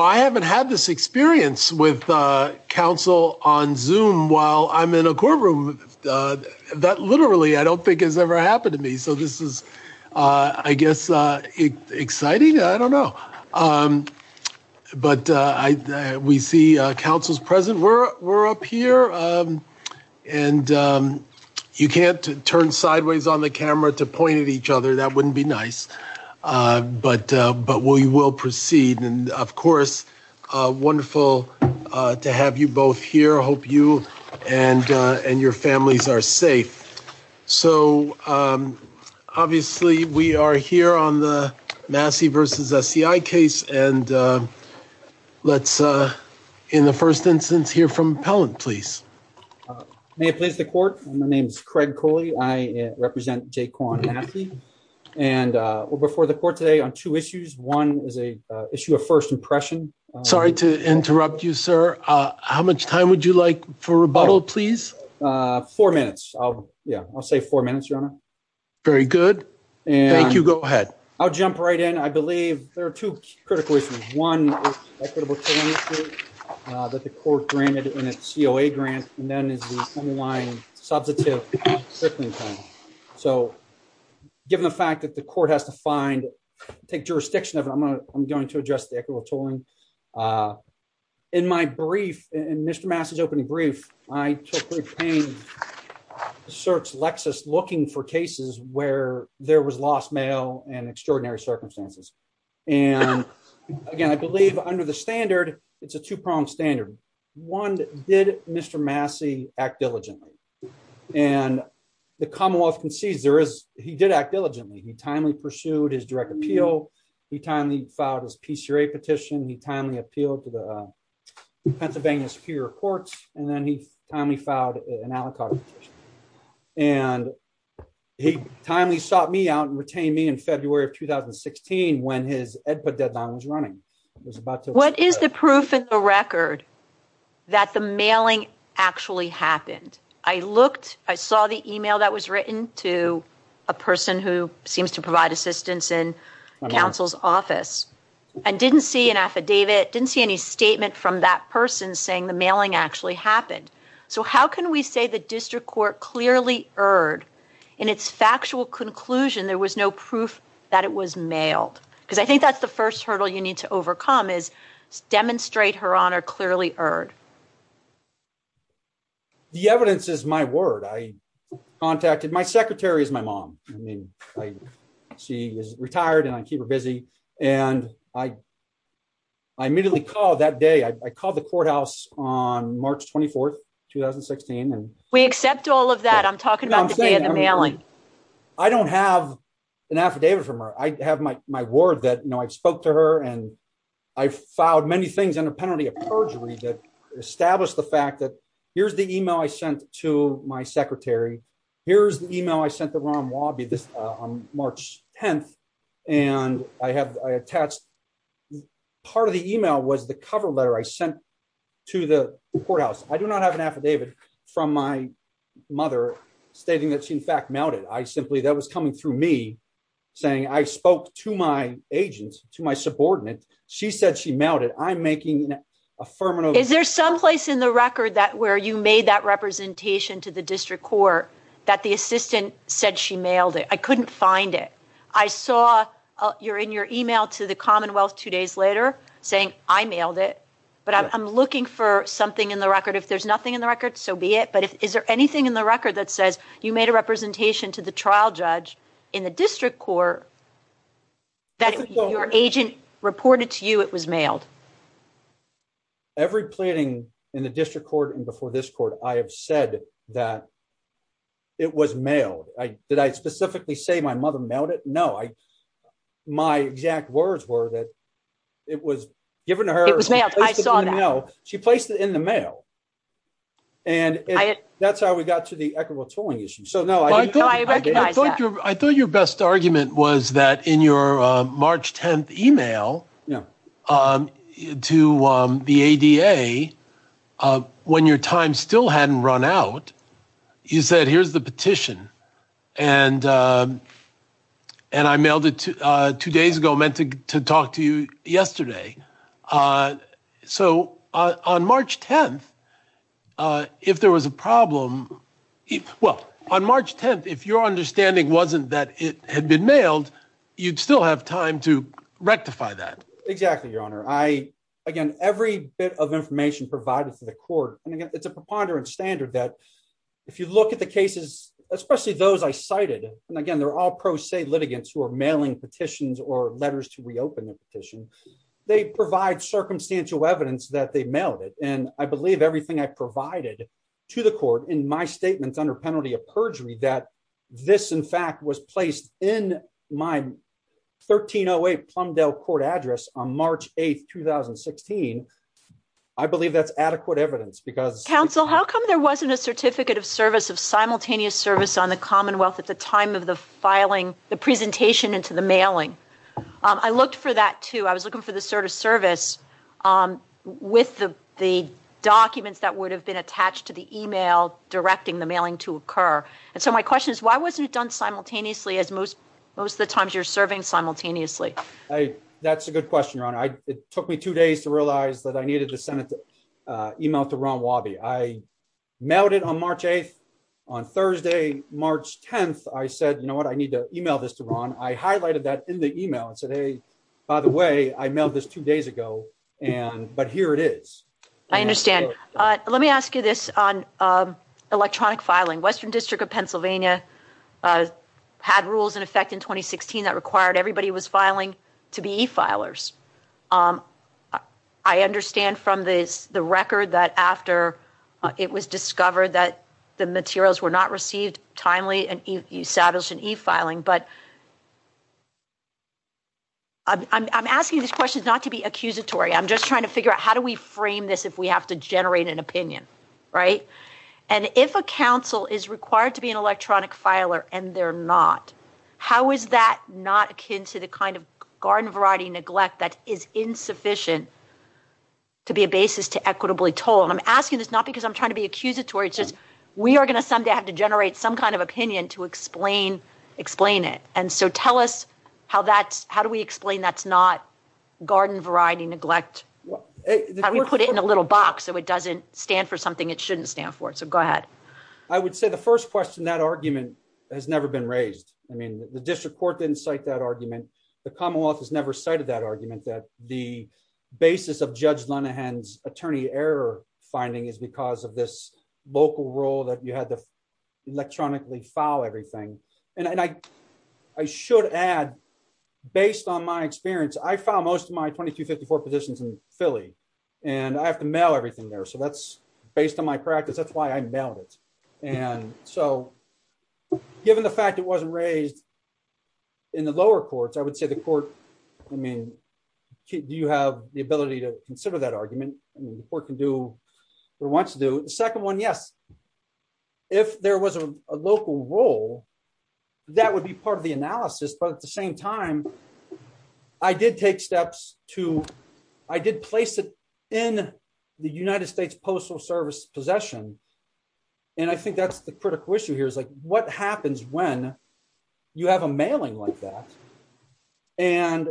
I haven't had this experience with council on zoom while I'm in a courtroom that literally I don't think has ever happened to me. So this is, I guess, exciting. I don't know. But we see councils present. We're up here. And you can't turn sideways on the camera to point at each other. That wouldn't be nice. But we will proceed. And, of course, wonderful to have you both here. I hope you and your families are safe. So, obviously, we are here on the Massey v. SCI case. And let's, in the first instance, hear from appellant, please. May I please have the court? My name is Craig Cooley. I represent Jay Kwon Massey. And we're before the court today on two issues. One is an issue of first impression. Sorry to interrupt you, sir. How much time would you like for rebuttal, please? Four minutes. Yeah, I'll say four minutes, your honor. Very good. Thank you. Go ahead. I'll jump right in. I believe there are two critical issues. One is equitable tolling that the court granted in its COA grant. And then is the underlying substantive sickness claim. So given the fact that the court has to find, take jurisdiction of it, I'm going to address the equitable tolling. In my brief, in Mr. Massey's opening brief, I took the pain to search Lexis looking for cases where there was lost mail and extraordinary circumstances. And again, I believe under the standard, it's a two-pronged standard. One, did Mr. Massey act diligently? And the commonwealth can see there is he did act diligently. He timely pursued his direct appeal. He timely filed his PCRA petition. He timely appealed to the Pennsylvania Superior Courts. And then he timely filed an alibi. And he timely sought me out and retained me in February of 2016 when his EDPA deadline was running. What is the proof in the record that the mailing actually happened? I looked, I saw the email that was written to a person who seems to provide assistance in counsel's office and didn't see an affidavit, didn't see any statement from that person saying the mailing actually happened. So how can we say the district court clearly erred in its factual conclusion there was no proof that it was mailed? Because I think that's the first hurdle you need to overcome is demonstrate her honor clearly erred. The evidence is my word. I contacted, my secretary is my mom. She is retired and I keep her busy. And I immediately called that day. I called the courthouse on March 24, 2016. We accept all of that. I'm talking about the day of the mailing. I don't have an affidavit from her. I have my word that I spoke to her and I filed many things under penalty of perjury to establish the fact that here's the email I sent to my secretary. Here's the email I sent to Ron Wabi on March 10th. And I have attached part of the email was the cover letter I sent to the courthouse. I do not have an affidavit from my mother stating that she in fact mailed it. I simply that was coming through me saying I spoke to my agents, to my subordinate. She said she mailed it. I'm making affirmative. Is there someplace in the record where you made that representation to the district court that the assistant said she mailed it? I couldn't find it. I saw you're in your email to the Commonwealth two days later saying I mailed it. But I'm looking for something in the record. If there's nothing in the record, so be it. But is there anything in the record that says you made a representation to the trial judge in the district court that your agent reported to you it was mailed? Every pleading in the district court and before this court, I have said that it was mailed. Did I specifically say my mother mailed it? No. My exact words were that it was given to her. It was mailed. I saw that. She placed it in the mail. And that's how we got to the equitable tolling issue. I recognize that. I thought your best argument was that in your March 10th email to the A.D.A. when your time still hadn't run out, you said here's the petition. And and I mailed it two days ago meant to talk to you yesterday. So on March 10th, if there was a problem. Well, on March 10th, if your understanding wasn't that it had been mailed, you'd still have time to rectify that. Exactly. Your Honor, I again, every bit of information provided to the court. It's a preponderance standard that if you look at the cases, especially those I cited. And again, they're all pro se litigants who are mailing petitions or letters to reopen the petition. They provide circumstantial evidence that they mailed it. And I believe everything I provided to the court in my statements under penalty of perjury, that this, in fact, was placed in my 13 08 Plumdale court address on March 8th, 2016. I believe that's adequate evidence because counsel, how come there wasn't a certificate of service of simultaneous service on the Commonwealth? It's a time of the filing the presentation into the mailing. I looked for that, too. I was looking for the sort of service with the documents that would have been attached to the email directing the mailing to occur. And so my question is, why wasn't it done simultaneously as most most of the times you're serving simultaneously? That's a good question. It took me two days to realize that I needed to send an email to Ron Wabi. I mailed it on March 8th. On Thursday, March 10th, I said, you know what, I need to email this to Ron. I highlighted that in the email today. By the way, I mailed this two days ago. And but here it is. I understand. Let me ask you this on electronic filing. Western District of Pennsylvania had rules in effect in 2016 that required everybody was filing to be filers. I understand from the record that after it was discovered that the materials were not received timely and established in e-filing. But I'm asking this question not to be accusatory. I'm just trying to figure out how do we frame this if we have to generate an opinion? Right. And if a counsel is required to be an electronic filer and they're not, how is that not akin to the kind of garden variety neglect that is insufficient to be a basis to equitably told? I'm asking this not because I'm trying to be accusatory. We are going to someday have to generate some kind of opinion to explain, explain it. And so tell us how that's how do we explain that's not garden variety neglect? Well, we put it in a little box so it doesn't stand for something it shouldn't stand for. So go ahead. I would say the first question, that argument has never been raised. I mean, the district court didn't cite that argument. The Commonwealth has never cited that argument that the basis of Judge Linehan's attorney error finding is because of this local rule that you had to electronically file everything. And I should add, based on my experience, I found most of my 2254 positions in Philly and I have to mail everything there. So that's based on my practice. That's why I mailed it. And so, given the fact it wasn't raised in the lower courts, I would say the court, I mean, do you have the ability to consider that argument? The court can do what it wants to do. The second one, yes. If there was a local rule, that would be part of the analysis. But at the same time, I did take steps to, I did place it in the United States Postal Service possession. And I think that's the critical issue here is like, what happens when you have a mailing like that? And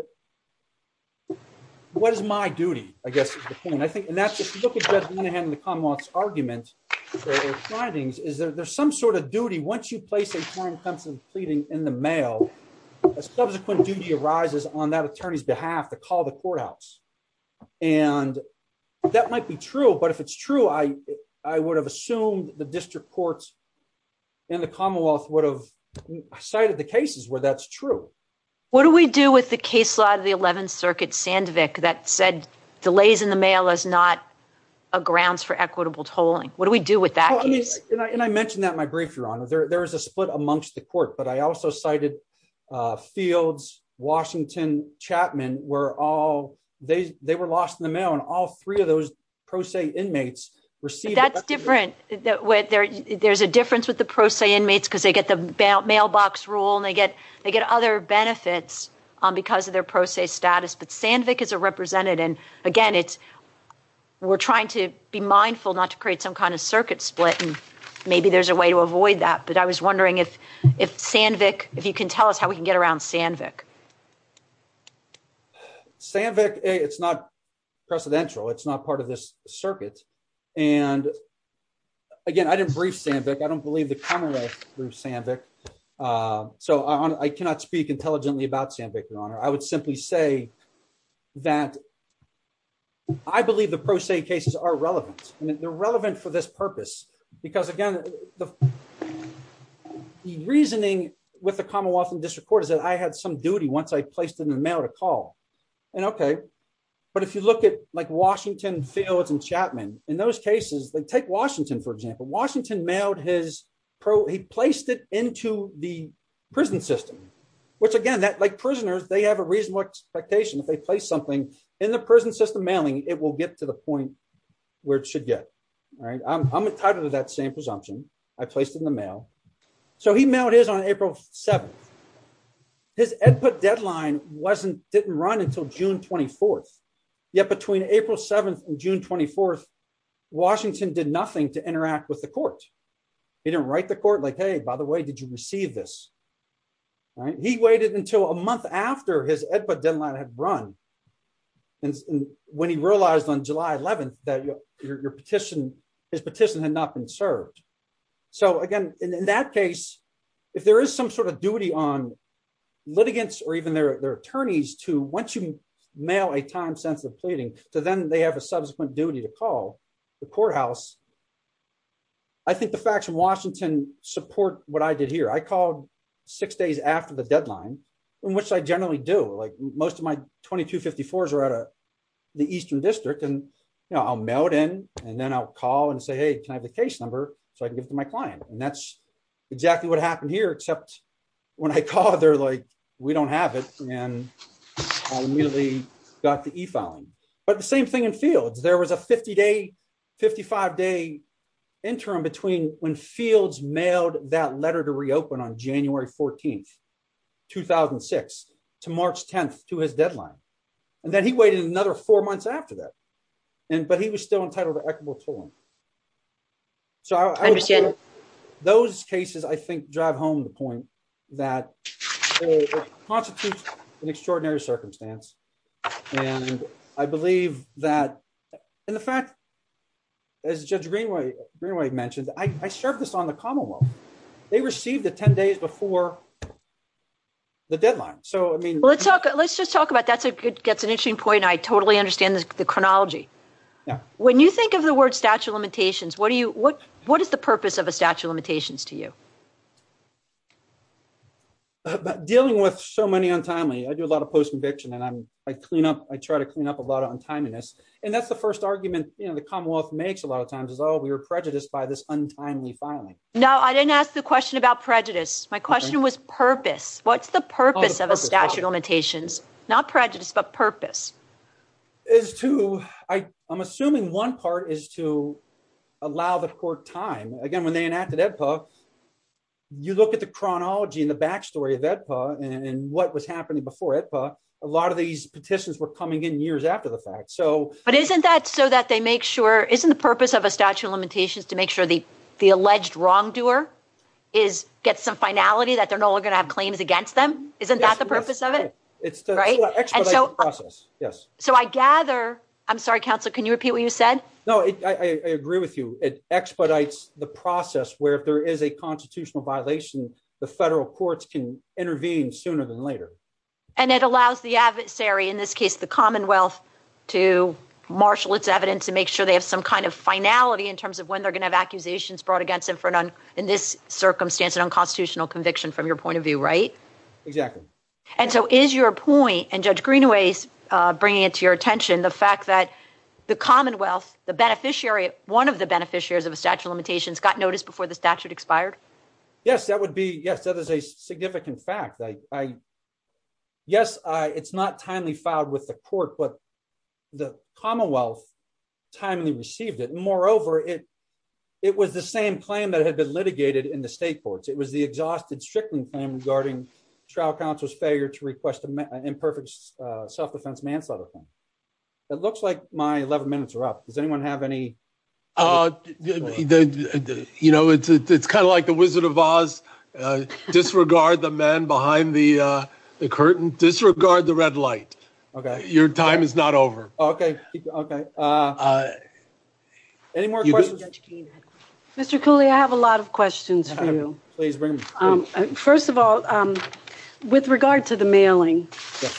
what is my duty, I guess is the thing. And that's just, if you look at Judge Linehan and the Commonwealth's argument or findings, is that there's some sort of duty. Once you place a form of constant pleading in the mail, a subsequent duty arises on that attorney's behalf to call the courthouse. And that might be true, but if it's true, I would have assumed the district courts and the Commonwealth would have cited the cases where that's true. What do we do with the case law of the 11th Circuit, Sandvik, that said delays in the mail is not a grounds for equitable tolling? What do we do with that case? And I mentioned that in my brief, Your Honor. There is a split amongst the court, but I also cited Fields, Washington, Chapman, where all, they were lost in the mail and all three of those pro se inmates received. That's different. There's a difference with the pro se inmates because they get the mailbox rule and they get other benefits because of their pro se status. But Sandvik is a representative. And again, we're trying to be mindful not to create some kind of circuit split and maybe there's a way to avoid that. But I was wondering if Sandvik, if you can tell us how we can get around Sandvik. Sandvik, it's not precedential. It's not part of this circuit. And again, I didn't brief Sandvik. I don't believe the Commonwealth approved Sandvik. So I cannot speak intelligently about Sandvik, Your Honor. I would simply say that I believe the pro se cases are relevant and they're relevant for this purpose. Because again, the reasoning with the Commonwealth and District Court is that I had some duty once I placed in the mail to call. And okay. But if you look at like Washington, Fields, and Chapman, in those cases, take Washington, for example, Washington mailed his, he placed it into the prison system. Which again, like prisoners, they have a reasonable expectation if they place something in the prison system mailing, it will get to the point where it should get. I'm a type of that same presumption. I placed in the mail. So he mailed his on April 7th. His input deadline didn't run until June 24th. Yet between April 7th and June 24th, Washington did nothing to interact with the court. He didn't write the court like, hey, by the way, did you receive this? He waited until a month after his input deadline had run. And when he realized on July 11th that your petition, his petition had not been served. So, again, in that case, if there is some sort of duty on litigants or even their attorneys to once you mail a time sensitive pleading, so then they have a subsequent duty to call the courthouse. I think the facts in Washington support what I did here. I called six days after the deadline, which I generally do. Like, most of my 2254s are out of the Eastern District and I'll mail it in and then I'll call and say, hey, can I have the case number so I can get to my client? And that's exactly what happened here, except when I called, they're like, we don't have it. And I nearly got the e-file, but the same thing in fields, there was a 50 day, 55 day interim between when fields mailed that letter to reopen on January 14th, 2006 to March 10th to his deadline. And then he waited another four months after that. And but he was still entitled to equitable form. So I understand those cases, I think, drive home the point that constitutes an extraordinary circumstance. And I believe that in the fact. As you mentioned, I served this on the Commonwealth, they received the 10 days before. The deadline, so, I mean, let's talk let's just talk about that's a good definition point. I totally understand the chronology. When you think of the word statute of limitations, what do you what what is the purpose of a statute of limitations to you? Dealing with so many untimely, I do a lot of post conviction and I clean up, I try to clean up a lot of untimeliness. And that's the first argument, you know, the Commonwealth makes a lot of times is, oh, we were prejudiced by this untimely filing. No, I didn't ask the question about prejudice. My question was purpose. What's the purpose of a statute of limitations? Not prejudice, but purpose. I'm assuming one part is to allow the court time. Again, when they enacted EDPA, you look at the chronology and the backstory of EDPA and what was happening before EDPA, a lot of these petitions were coming in years after the fact. But isn't that so that they make sure, isn't the purpose of a statute of limitations to make sure the alleged wrongdoer gets some finality that they're no longer going to have claims against them? Isn't that the purpose of it? So I gather, I'm sorry, counsel, can you repeat what you said? No, I agree with you. It expedites the process where if there is a constitutional violation, the federal courts can intervene sooner than later. And it allows the adversary, in this case, the Commonwealth to marshal its evidence to make sure they have some kind of finality in terms of when they're going to have accusations brought against them in this circumstance, an unconstitutional conviction from your point of view, right? Exactly. And so is your point, and Judge Greenaway's bringing it to your attention, the fact that the Commonwealth, the beneficiary, one of the beneficiaries of the statute of limitations got notice before the statute expired? Yes, that would be, yes, that is a significant fact. Yes, it's not timely filed with the court, but the Commonwealth timely received it. Moreover, it was the same claim that had been litigated in the state courts. It was the exhausted stricken claim regarding trial counsel's failure to request an imperfect self-defense manslaughter claim. It looks like my 11 minutes are up. Does anyone have any? You know, it's kind of like the Wizard of Oz. Disregard the man behind the curtain. Disregard the red light. Okay. Your time is not over. Okay. Any more questions? Mr. Cooley, I have a lot of questions for you. Please bring them. First of all, with regard to the mailing,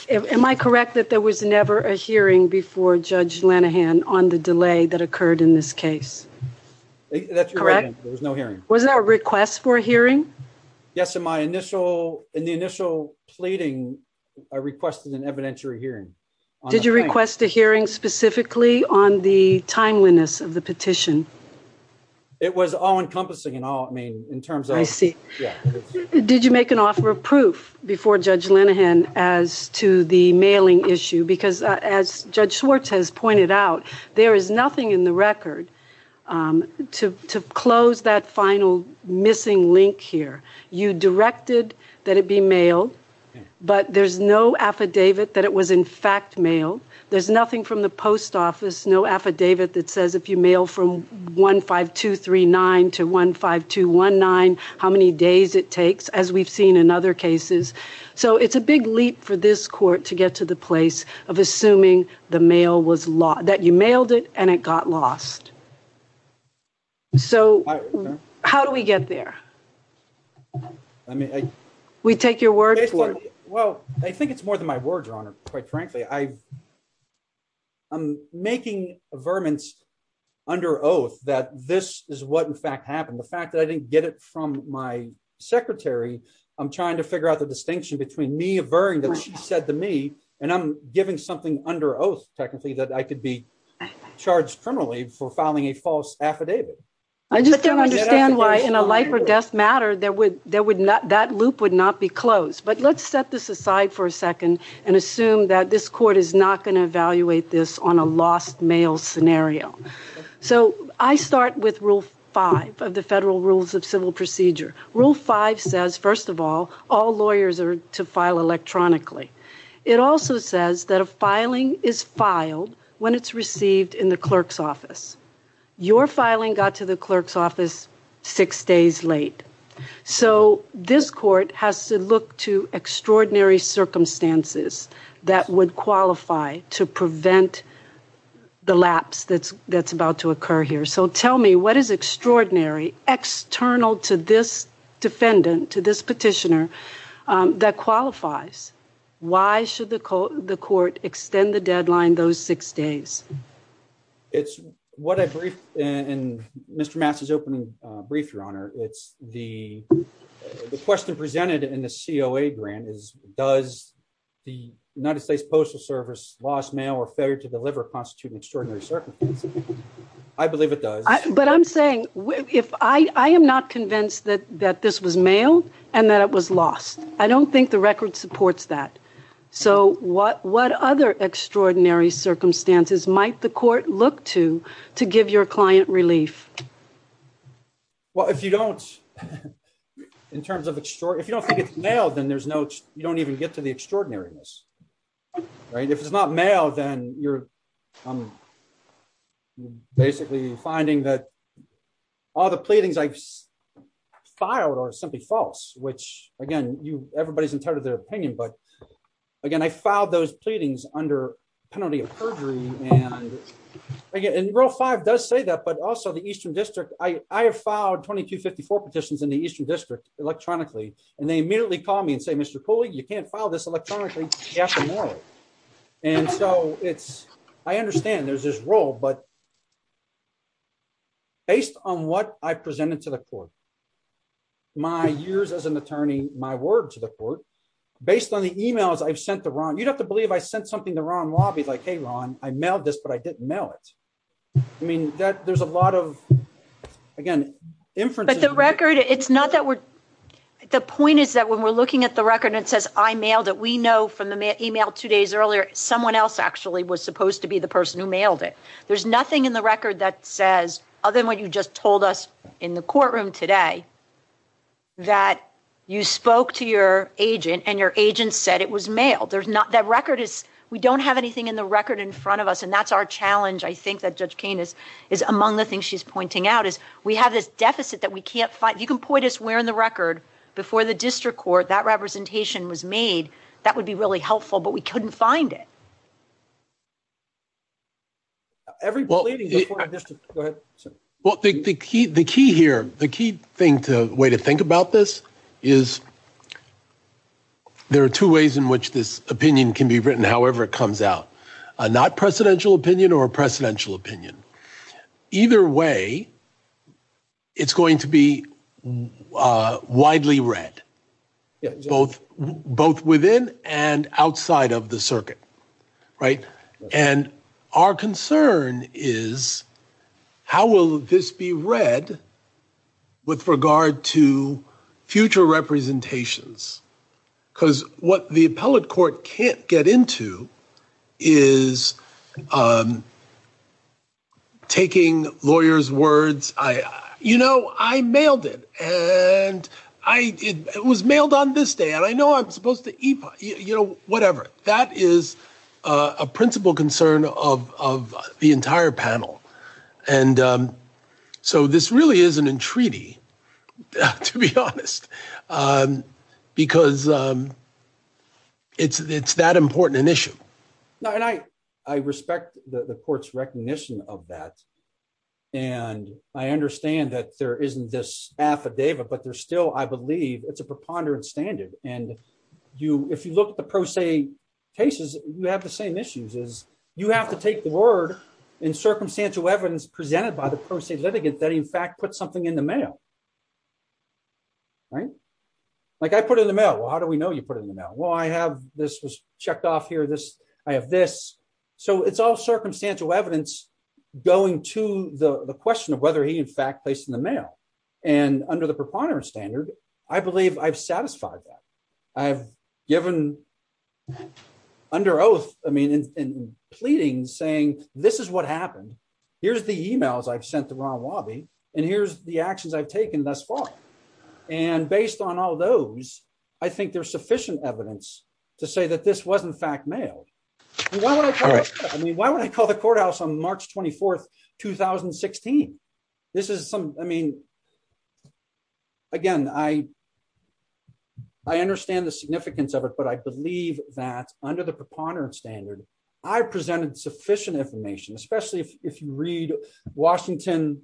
am I correct that there was never a hearing before Judge Lenahan on the delay that occurred in this case? That's correct. There was no hearing. Was there a request for a hearing? Yes, in my initial, in the initial pleading, I requested an evidentiary hearing. Did you request a hearing specifically on the timeliness of the petition? It was all-encompassing in all, I mean, in terms of... I see. Yeah. Did you make an offer of proof before Judge Lenahan as to the mailing issue? Because as Judge Schwartz has pointed out, there is nothing in the record to close that final missing link here. You directed that it be mailed, but there's no affidavit that it was in fact mailed. There's nothing from the post office, no affidavit that says if you mail from 15239 to 15219 how many days it takes, as we've seen in other cases. So it's a big leap for this court to get to the place of assuming the mail was lost, that you mailed it and it got lost. So how do we get there? I mean, I... We take your word for it. Well, I think it's more than my word, Your Honor, quite frankly. I'm making a vermin under oath that this is what in fact happened. The fact that I didn't get it from my secretary, I'm trying to figure out the distinction between me averring what she said to me, and I'm giving something under oath, technically, that I could be charged criminally for filing a false affidavit. I just don't understand why in a life or death matter that loop would not be closed. But let's set this aside for a second and assume that this court is not going to evaluate this on a lost mail scenario. So I start with Rule 5 of the Federal Rules of Civil Procedure. Rule 5 says, first of all, all lawyers are to file electronically. It also says that a filing is filed when it's received in the clerk's office. Your filing got to the clerk's office six days late. So this court has to look to extraordinary circumstances that would qualify to prevent the lapse that's about to occur here. So tell me, what is extraordinary, external to this defendant, to this petitioner, that qualifies? Why should the court extend the deadline those six days? It's what I briefed in Mr. Matz's opening brief, Your Honor. It's the question presented in the COA grant is, does the United States Postal Service lost mail or failure to deliver constitute an extraordinary circumstance? I believe it does. But I'm saying, I am not convinced that this was mailed and that it was lost. I don't think the record supports that. So what other extraordinary circumstances might the court look to to give your client relief? Well, if you don't, in terms of extraordinary, if you don't think it's mailed, then there's no, you don't even get to the extraordinariness. If it's not mailed, then you're basically finding that all the pleadings I filed are simply false, which again, everybody's entitled to their opinion. But again, I filed those pleadings under penalty of perjury. And Rule 5 does say that, but also the Eastern District. I have filed 2254 petitions in the Eastern District electronically, and they immediately call me and say, Mr. Cooley, you can't file this electronically. You have to mail it. And so it's, I understand there's this rule, but based on what I presented to the court, my years as an attorney, my word to the court, based on the emails I've sent to Ron, you'd have to believe I sent something to Ron Robbie, like, hey, Ron, I mailed this, but I didn't mail it. I mean, there's a lot of, again, inferences. But the record, it's not that we're, the point is that when we're looking at the record and it says I mailed it, we know from the email two days earlier, someone else actually was supposed to be the person who mailed it. There's nothing in the record that says, other than what you just told us in the courtroom today, that you spoke to your agent and your agent said it was mailed. That record is, we don't have anything in the record in front of us, and that's our challenge, I think, that Judge Cain is, is among the things she's pointing out, is we have this deficit that we can't find. You can point us where in the record before the District Court that representation was made. That would be really helpful, but we couldn't find it. Well, the key here, the key thing, the way to think about this is there are two ways in which this opinion can be written, however it comes out, a not-presidential opinion or a presidential opinion. Either way, it's going to be widely read, both within and outside of the circuit, right? And our concern is, how will this be read with regard to future representations? Because what the appellate court can't get into is taking lawyers' words, you know, I mailed it, and it was mailed on this day, and I know I'm supposed to, you know, whatever. That is a principal concern of the entire panel, and so this really is an entreaty, to be honest, because it's that important an issue. No, and I respect the court's recognition of that, and I understand that there isn't this affidavit, but there's still, I believe, it's a preponderance standard, and if you look at the pro se cases, you have the same issues. You have to take the word in circumstantial evidence presented by the pro se litigant that he, in fact, put something in the mail. Right? Like, I put it in the mail. Well, how do we know you put it in the mail? Well, I have this was checked off here, this, I have this. So it's all circumstantial evidence going to the question of whether he, in fact, placed it in the mail, and under the preponderance standard, I believe I've satisfied that. I've given, under oath, I mean, pleading, saying, this is what happened. Here's the emails I've sent to Ron Wabi, and here's the actions I've taken thus far, and based on all those, I think there's sufficient evidence to say that this was, in fact, mailed. Why would I call the courthouse on March 24th, 2016? This is some, I mean, again, I understand the significance of it, but I believe that under the preponderance standard, I presented sufficient information, especially if you read Washington,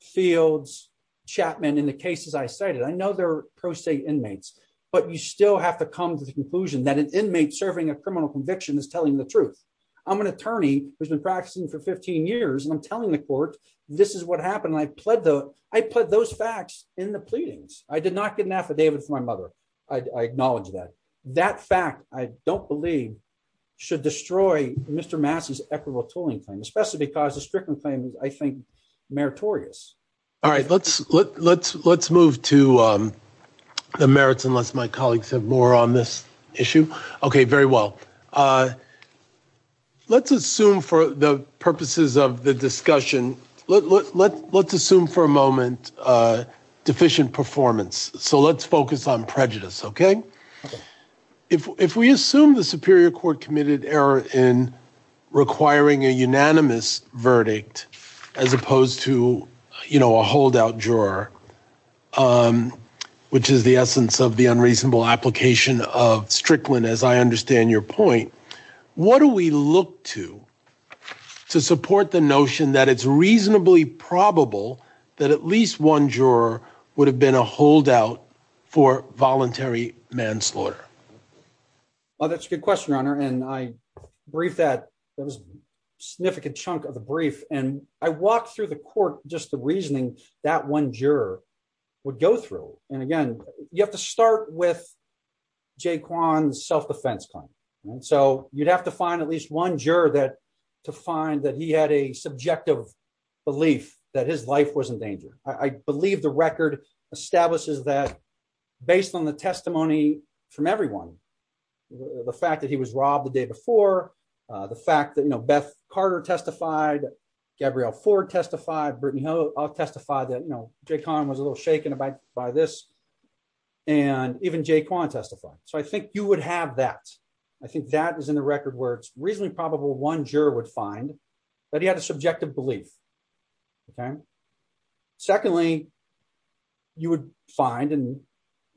Fields, Chapman, and the cases I cited. I know they're pro se inmates, but you still have to come to the conclusion that an inmate serving a criminal conviction is telling the truth. I'm an attorney who's been practicing for 15 years, and I'm telling the court, this is what happened. I pled those facts in the pleadings. I did not get an affidavit from my mother. I acknowledge that. That fact, I don't believe, should destroy Mr. Massey's equitable tolling claim, especially because the Strickland claim is, I think, meritorious. All right, let's move to the merits, unless my colleagues have more on this issue. Okay, very well. Let's assume for the purposes of the discussion, let's assume for a moment deficient performance. So let's focus on prejudice, okay? If we assume the superior court committed error in requiring a unanimous verdict as opposed to a holdout juror, which is the essence of the unreasonable application of Strickland, as I understand your point, what do we look to to support the notion that it's reasonably probable that at least one juror would have been a holdout for voluntary manslaughter? Well, that's a good question, Your Honor, and I briefed that. That was a significant chunk of the brief, and I walked through the court just the reasoning that one juror would go through. And again, you have to start with Jae Kwon's self-defense claim. So you'd have to find at least one juror to find that he had a subjective belief that his life was in danger. I believe the record establishes that, based on the testimony from everyone, the fact that he was robbed the day before, the fact that, you know, Beth Carter testified, Gabrielle Ford testified, Brittany Hull testified that, you know, Jae Kwon was a little shaken by this, and even Jae Kwon testified. So I think you would have that. I think that is in the record where it's reasonably probable one juror would find that he had a subjective belief. Okay. Secondly, you would find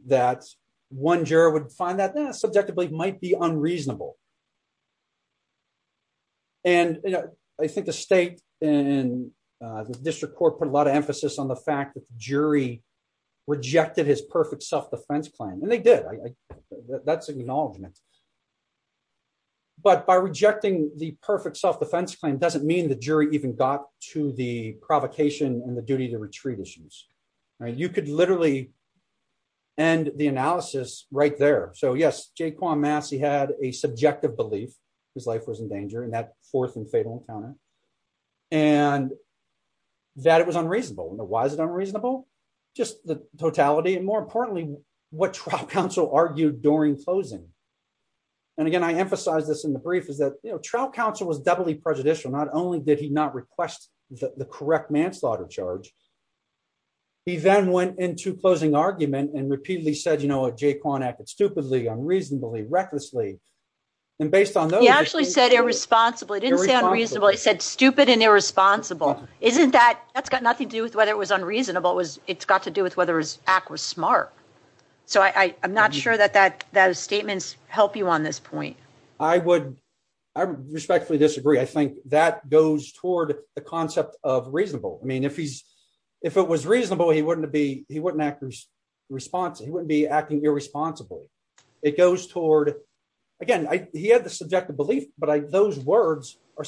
that one juror would find that subjective belief might be unreasonable. And, you know, I think the state and the district court put a lot of emphasis on the fact that the jury rejected his perfect self-defense claim, and they did. That's acknowledgement. But by rejecting the perfect self-defense claim doesn't mean the jury even got to the provocation and the duty to retreat issues. You could literally end the analysis right there. So, yes, Jae Kwon Massey had a subjective belief his life was in danger in that fourth and fatal encounter, and that it was unreasonable. Now, why is it unreasonable? Just the totality and, more importantly, what trial counsel argued during closing. And, again, I emphasize this in the brief is that, you know, trial counsel was doubly prejudicial. Not only did he not request the correct manslaughter charge, he then went into closing argument and repeatedly said, you know, a Jae Kwon acted stupidly. Unreasonably. Recklessly. He actually said irresponsible. He didn't say unreasonable. He said stupid and irresponsible. That's got nothing to do with whether it was unreasonable. It's got to do with whether his act was smart. So I'm not sure that those statements help you on this point. I would respectfully disagree. I think that goes toward the concept of reasonable. I mean, if it was reasonable, he wouldn't be acting irresponsible. It goes toward, again, he had the subjective belief, but those words are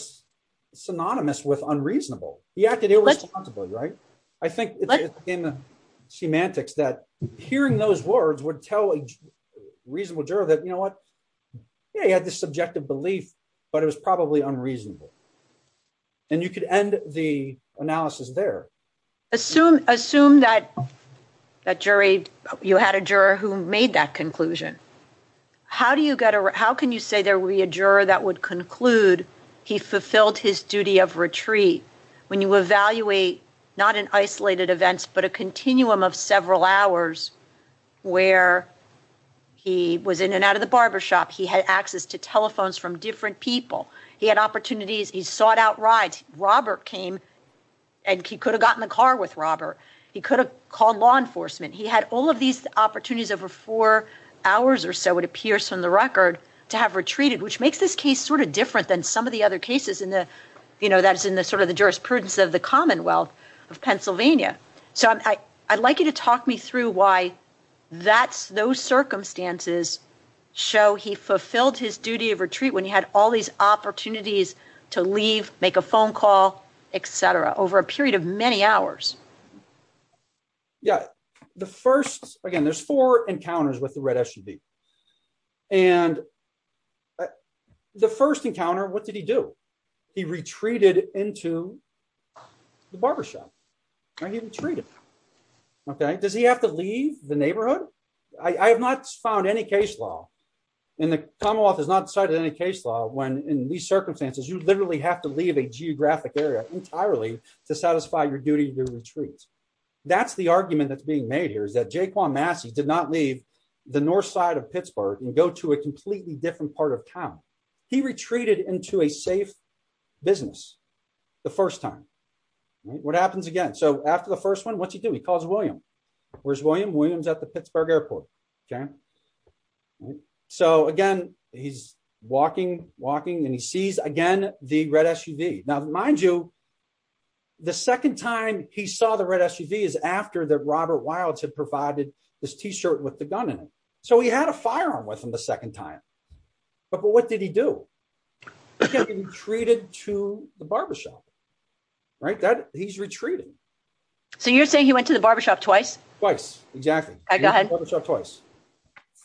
synonymous with unreasonable. He acted irresponsibly, right? I think it's in the semantics that hearing those words would tell a reasonable juror that, you know what, yeah, he had the subjective belief, but it was probably unreasonable. And you could end the analysis there. Assume that jury, you had a juror who made that conclusion. How do you get a, how can you say there would be a juror that would conclude he fulfilled his duty of retreat? When you evaluate, not in isolated events, but a continuum of several hours where he was in and out of the barbershop, he had access to telephones from different people, he had opportunities, he sought out rides. Robert came and he could have gotten a car with Robert. He could have called law enforcement. He had all of these opportunities over four hours or so, it appears from the record, to have retreated, which makes this case sort of different than some of the other cases in the, you know, that's in the sort of the jurisprudence of the Commonwealth of Pennsylvania. I'd like you to talk me through why that's those circumstances show he fulfilled his duty of retreat when he had all these opportunities to leave, make a phone call, et cetera, over a period of many hours. Yeah, the first, again, there's four encounters with the red SUV. And the first encounter, what did he do? He retreated into the barbershop. All right, he retreated. Okay, does he have to leave the neighborhood? I have not found any case law, and the Commonwealth has not cited any case law when in these circumstances, you literally have to leave a geographic area entirely to satisfy your duty of retreat. That's the argument that's being made here is that Jaquan Massey did not leave the north side of Pittsburgh and go to a completely different part of town. He retreated into a safe business. The first time. What happens again so after the first one what you do he calls William. Where's William Williams at the Pittsburgh airport. Okay. So again, he's walking, walking and he sees again, the red SUV. Now, mind you, the second time he saw the red SUV is after the Robert Wilds had provided this T shirt with the gun in it. So he had a firearm with him the second time. But what did he do. Treated to the barbershop. Right that he's retreated. So you're saying he went to the barbershop twice twice. Exactly. Twice.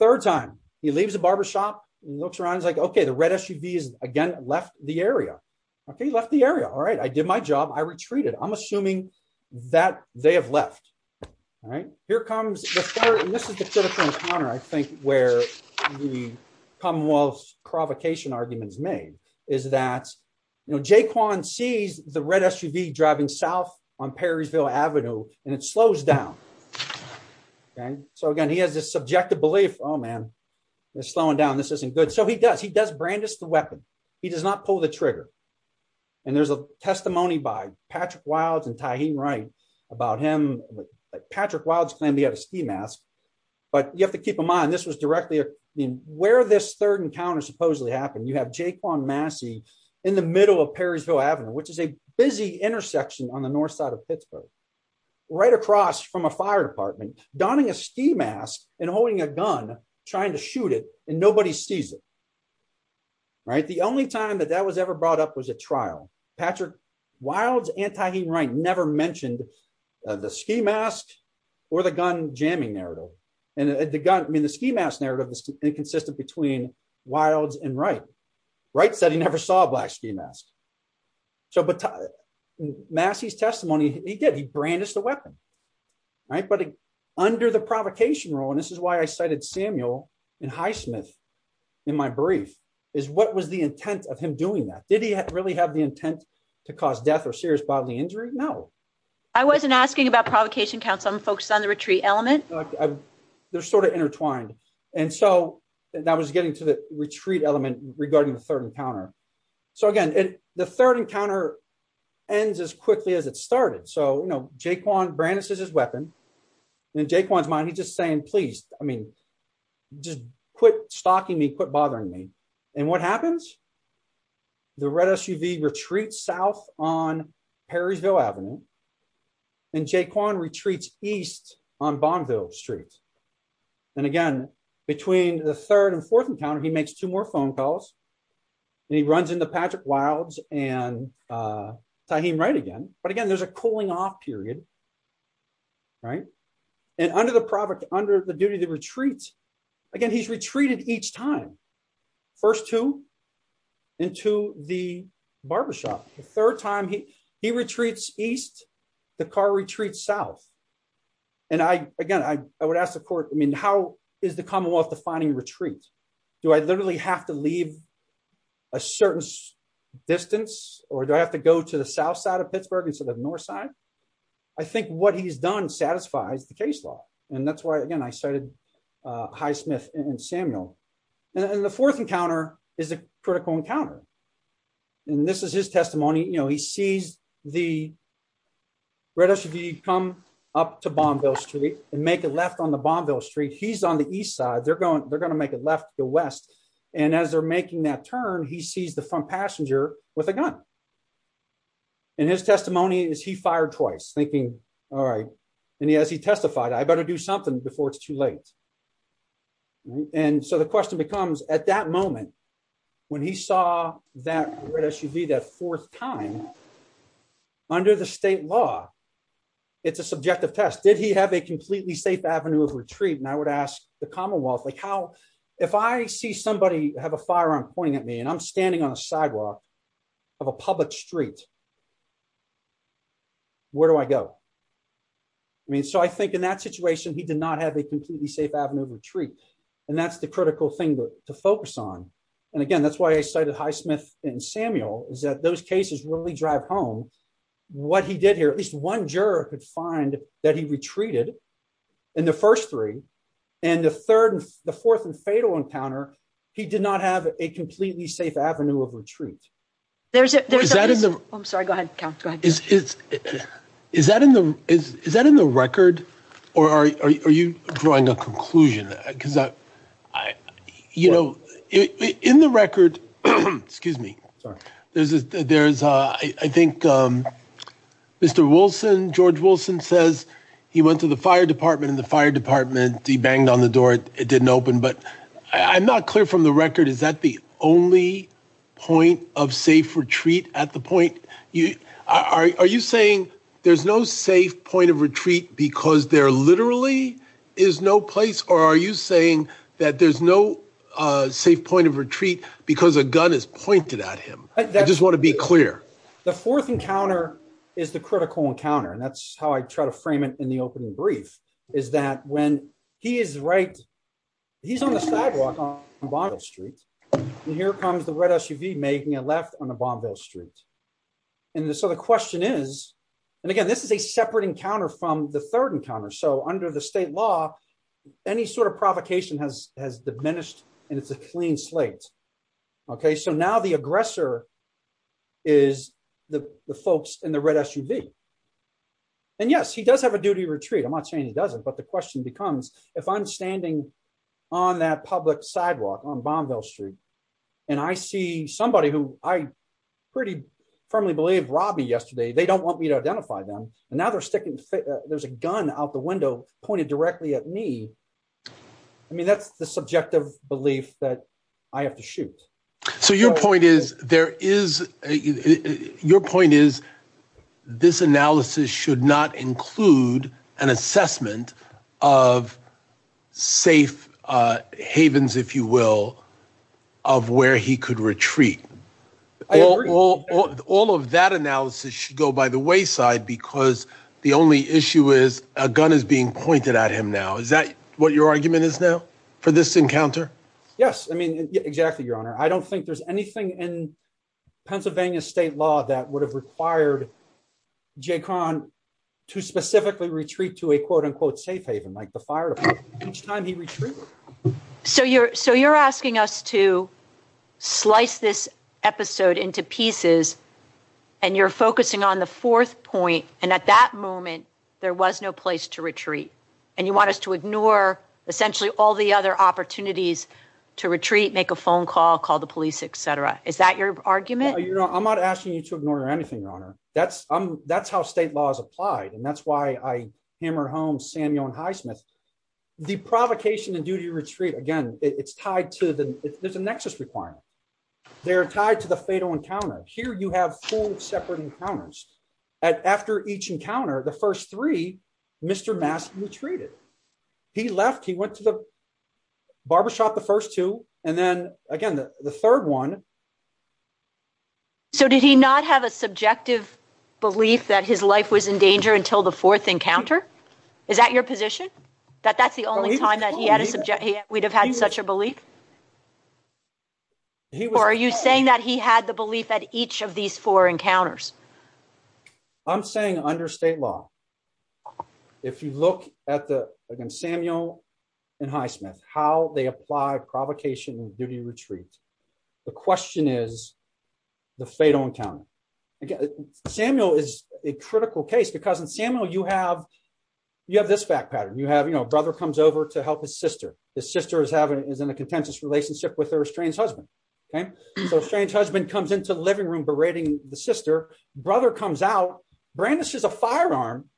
Third time, he leaves the barbershop looks around like okay the red SUV is again left the area. He left the area. All right, I did my job I retreated I'm assuming that they have left. All right, here comes the third and this is the third encounter I think where the Commonwealth provocation arguments made is that jquan sees the red SUV driving south on Perrysville Avenue, and it slows down. Okay, so again he has this subjective belief. Oh man, it's slowing down this isn't good so he does he does brandish the weapon. He does not pull the trigger. And there's a testimony by Patrick wilds and tying right about him. Patrick wilds can be at a ski mask. But you have to keep in mind this was directly where this third encounter supposedly happened you have jquan Massey in the middle of Perrysville Avenue, which is a busy intersection on the north side of Pittsburgh, right across from a fire department, donning a ski mask and holding a gun, trying to shoot it, and nobody sees it. Right, the only time that that was ever brought up was a trial, Patrick wilds and tying right never mentioned the ski mask, or the gun jamming narrative, and the gun mean the ski mask narrative is inconsistent between wilds and right. Right study never saw a black ski mask. So, but Massey's testimony, he did he brandish the weapon. Right, but under the provocation role and this is why I cited Samuel in highsmith in my brief is what was the intent of him doing that did he really have the intent to cause death or serious bodily injury. No, I wasn't asking about provocation council and folks on the retreat element. They're sort of intertwined. And so, that was getting to the retreat element regarding the third encounter. So again, the third encounter ends as quickly as it started so you know jquan brandishes his weapon in jquan's mind he's just saying please, I mean, just quit stalking me quit bothering me. And what happens. The red SUV retreat south on Perryville Avenue and jquan retreats east on bondo streets. And again, between the third and fourth encounter he makes two more phone calls. He runs into Patrick wilds, and he might again, but again there's a cooling off period. Right. And under the product under the duty to retreat. Again, he's retreated each time. First two into the barbershop, third time he, he retreats, east, the car retreat south. And I, again, I would ask the court, I mean how is the Commonwealth defining retreats. Do I literally have to leave a certain distance, or do I have to go to the south side of Pittsburgh and to the north side. I think what he's done satisfies the case law. And that's why again I started Highsmith and Samuel, and the fourth encounter is a critical encounter. And this is his testimony you know he sees the red SUV come up to bondo street and make a left on the bondo street he's on the east side they're going, they're going to make it left the west. And as they're making that turn he sees the front passenger with a gun. And his testimony is he fired twice thinking. All right. And he has he testified I better do something before it's too late. And so the question becomes, at that moment, when he saw that red SUV that fourth time under the state law. It's a subjective test did he have a completely safe avenue of retreat and I would ask the Commonwealth like how, if I see somebody have a firearm pointing at me and I'm standing on the sidewalk of a public street. Where do I go. I mean, so I think in that situation he did not have a completely safe avenue retreat. And that's the critical thing to focus on. And again, that's why I started Highsmith and Samuel is that those cases when we drive home. What he did here at least one juror could find that he retreated in the first three, and the third, the fourth and fatal encounter. He did not have a completely safe avenue of retreat. There's, there's, I'm sorry, go ahead. Is that in the, is that in the record, or are you drawing a conclusion, because I, you know, in the record. Excuse me. There's, there's, I think, Mr. Wilson George Wilson says he went to the fire department in the fire department, he banged on the door, it didn't open but I'm not clear from the record is that the only point of safe retreat at the point you are you saying there's no safe point of retreat, because there literally is no place or are you saying that there's no safe point of retreat, because a gun is pointed at him. I just want to be clear. The fourth encounter is the critical encounter and that's how I try to frame it in the opening brief, is that when he is right. He's on the sidewalk on bottle street. And here comes the red SUV making a left on the bond bill streets. And so the question is, and again this is a separate encounter from the third encounter so under the state law. Any sort of provocation has has diminished, and it's a clean slate. Okay, so now the aggressor is the folks in the red SUV. And yes, he does have a duty retreat I'm not saying he doesn't but the question becomes, if I'm standing on that public sidewalk on bond bill street. And I see somebody who I pretty firmly believe Robbie yesterday they don't want me to identify them, and now they're sticking. There's a gun out the window pointed directly at me. I mean that's the subjective belief that I have to shoot. So your point is, there is your point is this analysis should not include an assessment of safe havens, if you will, of where he could retreat. All of that analysis should go by the wayside because the only issue is a gun is being pointed at him now is that what your argument is there for this encounter. Yes, I mean, exactly, Your Honor, I don't think there's anything in Pennsylvania state law that would have required jaycon to specifically retreat to a quote unquote safe haven like the fire each time he retreated. So you're, so you're asking us to slice this episode into pieces. And you're focusing on the fourth point, and at that moment, there was no place to retreat, and you want us to ignore, essentially, all the other opportunities to retreat make a phone call call the police, etc. Is that your argument, you know, I'm not asking you to ignore anything, Your Honor, that's, that's how state laws applied and that's why I hammer home Samuel and highsmith. The provocation and duty retreat again, it's tied to the nexus requirement. They're tied to the fatal encounter here you have two separate encounters. So did he not have a subjective belief that his life was in danger until the fourth encounter. Is that your position that that's the only time that he had we'd have had such a belief. Are you saying that he had the belief that each of these four encounters. I'm saying under state law. If you look at the again Samuel and highsmith how they apply provocation duty retreat. The question is the fatal encounter. Again, Samuel is a critical case because in Samuel you have you have this back pattern you have you know brother comes over to help his sister, the sister is having is in a contentious relationship with her estranged husband. Okay, so strange husband comes into the living room berating the sister brother comes out brandishes a firearm.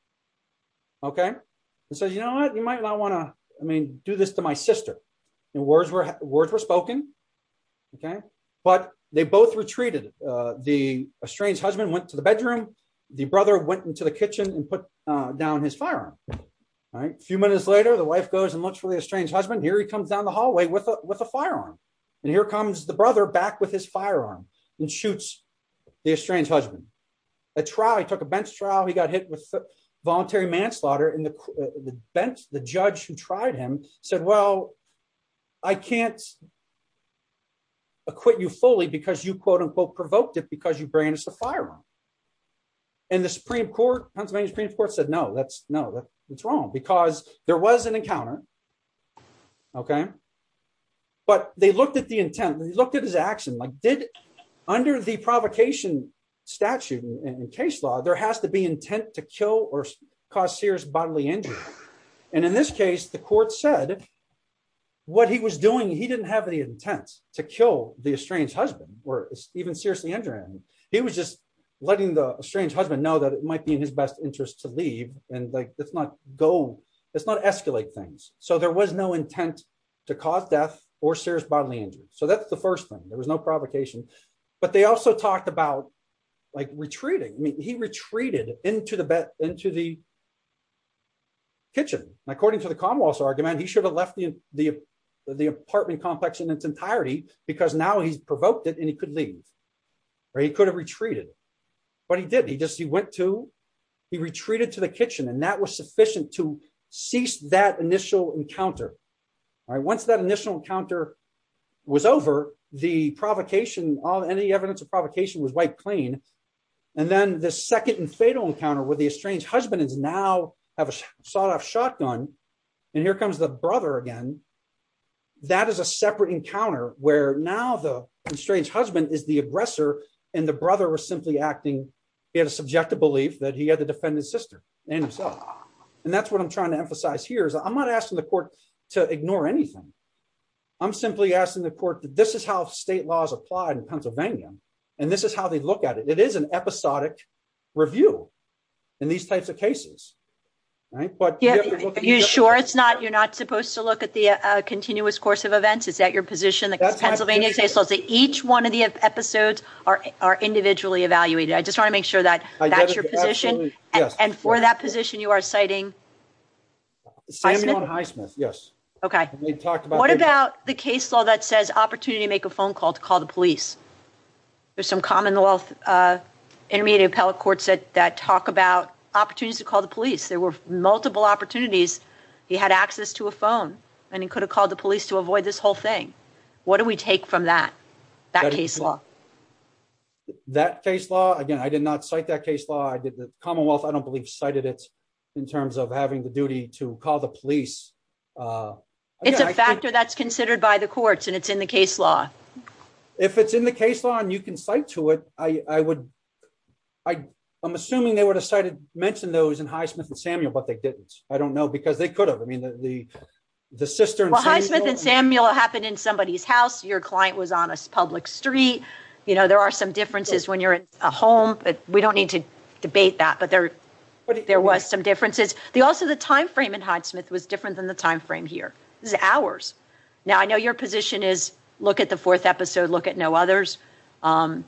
Okay, so you know what you might not want to do this to my sister. Words were spoken. Okay, but they both retreated. The estranged husband went to the bedroom. The brother went into the kitchen and put down his firearm. A few minutes later, the wife goes and looks for the estranged husband here he comes down the hallway with a with a firearm. And here comes the brother back with his firearm and shoots the estranged husband, a trial he took a bench trial he got hit with voluntary manslaughter in the bench, the judge who tried him, said, Well, I can't acquit you fully because you quote unquote provoked it because you bring us the fire. And the Supreme Court Pennsylvania Supreme Court said no that's no that's wrong because there was an encounter. Okay. But they looked at the intent and he looked at his action like did under the provocation statute in case law, there has to be intent to kill or cause serious bodily injury. And in this case, the court said, what he was doing he didn't have any intent to kill the estranged husband, or even seriously injured. He was just letting the estranged husband know that it might be in his best interest to leave, and like, it's not go. It's not escalate things, so there was no intent to cause death or serious bodily injury. So that's the first thing there was no provocation. But they also talked about, like, retreating, he retreated into the bed into the kitchen, according to the Commonwealth argument he should have left the, the, the apartment complex in its entirety, because now he provoked it and he could leave, or he could have retreated. But he did he just he went to he retreated to the kitchen and that was sufficient to cease that initial encounter. Once that initial encounter was over the provocation on any evidence of provocation was wiped clean. And then the second and fatal encounter where the estranged husband is now have a sawed off shotgun. And here comes the brother again. That is a separate encounter, where now the estranged husband is the aggressor, and the brother was simply acting in subjective belief that he had a defendant sister, and that's what I'm trying to emphasize here is I'm not asking the court to ignore anything. I'm simply asking the court. This is how state laws applied in Pennsylvania. And this is how they look at it. It is an episodic review in these types of cases. Are you sure it's not you're not supposed to look at the continuous course of events. Is that your position? Each one of the episodes are individually evaluated. I just want to make sure that that's your position. And for that position you are citing. Okay. What about the case law that says opportunity to make a phone call to call the police? There's some Commonwealth intermediate appellate courts that talk about opportunities to call the police. There were multiple opportunities. He had access to a phone, and he could have called the police to avoid this whole thing. What do we take from that? That case law. That case law again I did not cite that case law I did the Commonwealth I don't believe cited it in terms of having the duty to call the police. It's a factor that's considered by the courts and it's in the case law. If it's in the case law and you can cite to it, I would. I'm assuming they would have cited mentioned those in Highsmith and Samuel, but they didn't. I don't know because they could have. I mean, the sister. Highsmith and Samuel happened in somebody's house. Your client was on a public street. You know, there are some differences when you're at home, but we don't need to debate that. But there there was some differences. They also the time frame in Highsmith was different than the time frame here is hours. Now, I know your position is look at the fourth episode. Look at no others. The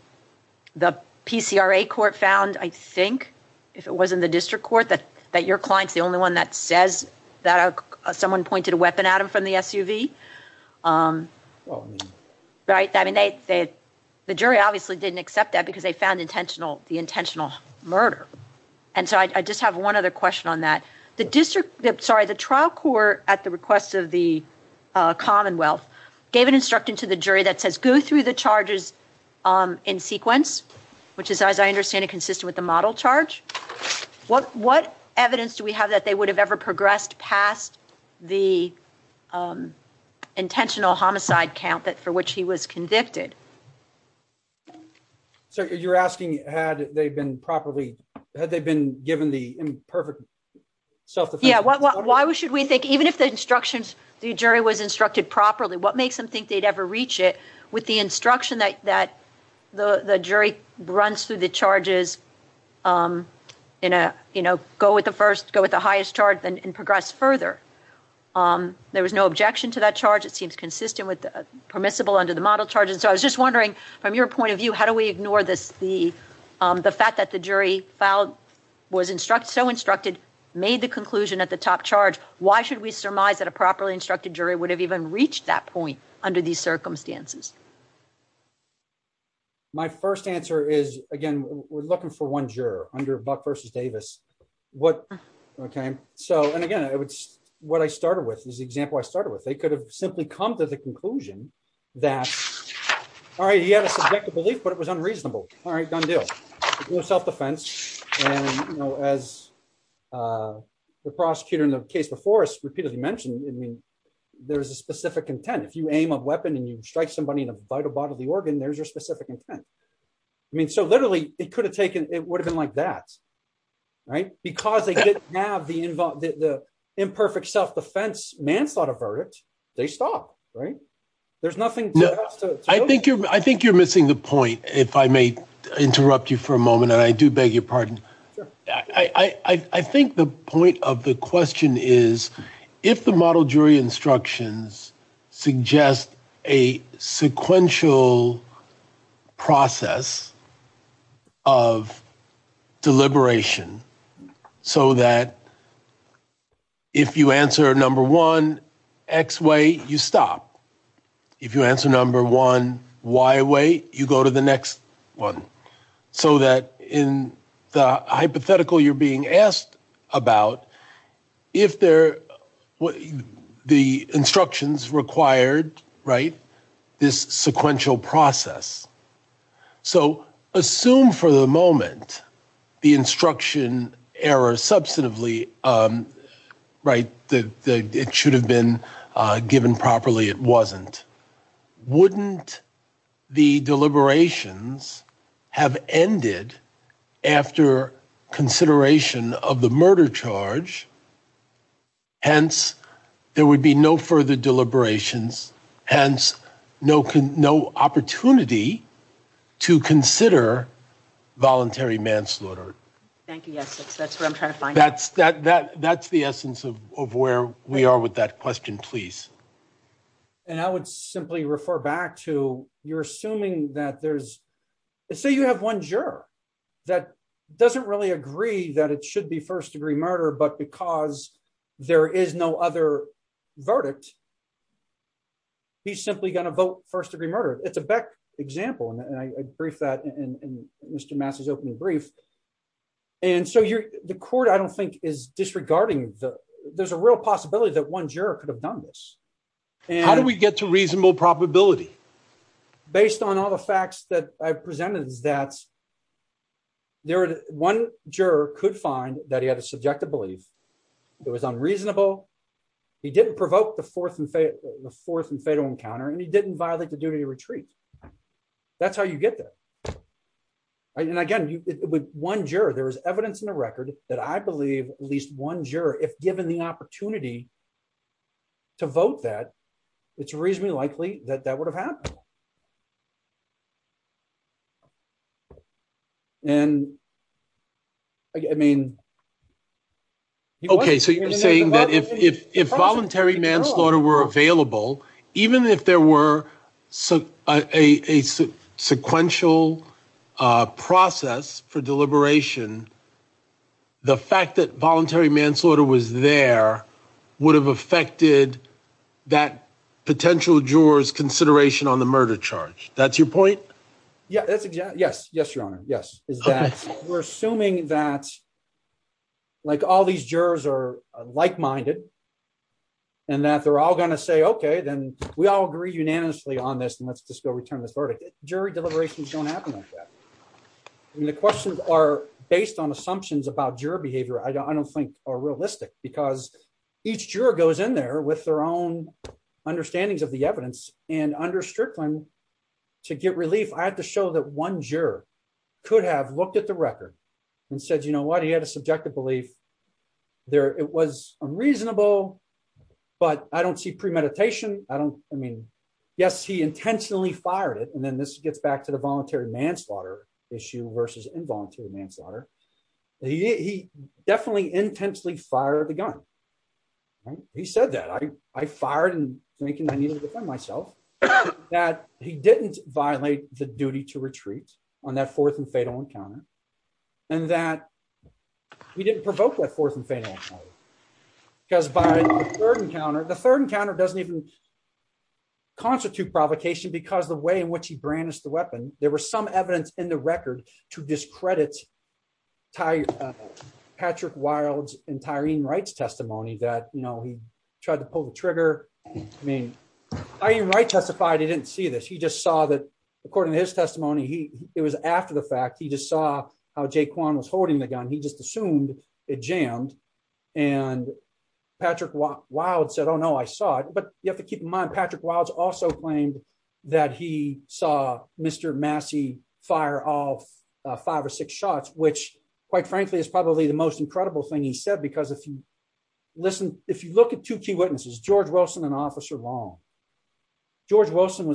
PCRA court found, I think, if it wasn't the district court that that your client is the only one that says that someone pointed a weapon at him from the SUV. Right. I mean, the jury obviously didn't accept that because they found intentional the intentional murder. And so I just have one other question on that. The trial court at the request of the Commonwealth gave an instruction to the jury that says go through the charges in sequence, which is, as I understand it, consistent with the model charge. What what evidence do we have that they would have ever progressed past the intentional homicide count that for which he was convicted? So you're asking had they been properly had they been given the perfect. So, yeah, why should we think even if the instructions the jury was instructed properly, what makes them think they'd ever reach it with the instruction that that the jury runs through the charges in a, you know, go with the first go with the highest charge and progress further. There was no objection to that charge. It seems consistent with permissible under the model charges. I was just wondering, from your point of view, how do we ignore this? The fact that the jury filed was instruct so instructed made the conclusion at the top charge. Why should we surmise that a properly instructed jury would have even reached that point under these circumstances? My first answer is, again, we're looking for one juror under Buck versus Davis. What? Okay. So, and again, what I started with is the example I started with, they could have simply come to the conclusion that. All right, yeah, but it was unreasonable. All right, don't do self defense. As the prosecutor in the case before us repeatedly mentioned, I mean, there's a specific intent if you aim a weapon and you strike somebody in a vital part of the organ, there's your specific intent. I mean, so literally, it could have taken it would have been like that. Right, because they didn't have the involvement, the imperfect self defense man thought of verdict. They stopped. Right. There's nothing. I think you're I think you're missing the point, if I may interrupt you for a moment. I do beg your pardon. I think the point of the question is, if the model jury instructions suggest a sequential process of deliberation, so that if you answer number one, X way, you stop. If you answer number one, Y way, you go to the next one. So that in the hypothetical you're being asked about, if they're what the instructions required, right, this sequential process. So assume for the moment the instruction error substantively, right, that it should have been given properly. It wasn't. Wouldn't the deliberations have ended after consideration of the murder charge. Hence, there would be no further deliberations. Hence, no opportunity to consider voluntary manslaughter. Thank you. That's what I'm trying to find. That's the essence of where we are with that question, please. And I would simply refer back to, you're assuming that there's, say you have one juror that doesn't really agree that it should be first degree murder, but because there is no other verdict. He's simply going to vote first degree murder. It's a Beck example, and I agree with that in Mr. Massey's opening brief. And so the court, I don't think, is disregarding. There's a real possibility that one juror could have done this. How do we get to reasonable probability? Based on all the facts that I presented that one juror could find that he had a subjective belief. It was unreasonable. He didn't provoke the force and fatal encounter, and he didn't violate the duty to retreat. That's how you get there. And again, with one juror, there is evidence in the record that I believe at least one juror, if given the opportunity to vote that, it's reasonably likely that that would have happened. Okay. So you're saying that if voluntary manslaughter were available, even if there were a sequential process for deliberation, the fact that voluntary manslaughter was there would have affected that potential juror's consideration on the matter. That's your point? Yes. Yes, Your Honor. Yes. We're assuming that all these jurors are like-minded and that they're all going to say, okay, then we all agree unanimously on this, and let's just go return this verdict. Jury deliberations don't happen like that. The questions are based on assumptions about juror behavior I don't think are realistic, because each juror goes in there with their own understandings of the evidence, and under Strickland, to get relief, I have to show that one juror could have looked at the record and said, you know what, he had a subjective belief. It was unreasonable, but I don't see premeditation. I mean, yes, he intentionally fired it, and then this gets back to the voluntary manslaughter issue versus involuntary manslaughter. He definitely intensely fired the gun. He said that. I fired him thinking I needed to defend myself, that he didn't violate the duty to retreat on that fourth and fatal encounter, and that he didn't provoke that fourth and fatal encounter. The third encounter doesn't even constitute provocation, because the way in which he brandished the weapon, there was some evidence in the record to discredit Patrick Wilde's and Tyreen Wright's testimony that he tried to pull the trigger. Tyreen Wright testified he didn't see this. He just saw that, according to his testimony, it was after the fact. He just saw how Jay Kwan was holding the gun. He just assumed it jammed, and Patrick Wilde said, oh, no, I saw it. But you have to keep in mind, Patrick Wilde also claimed that he saw Mr. Massey fire all five or six shots, which, quite frankly, is probably the most incredible thing he said, because if you look at two key witnesses, George Wilson and Officer Long, they're the only two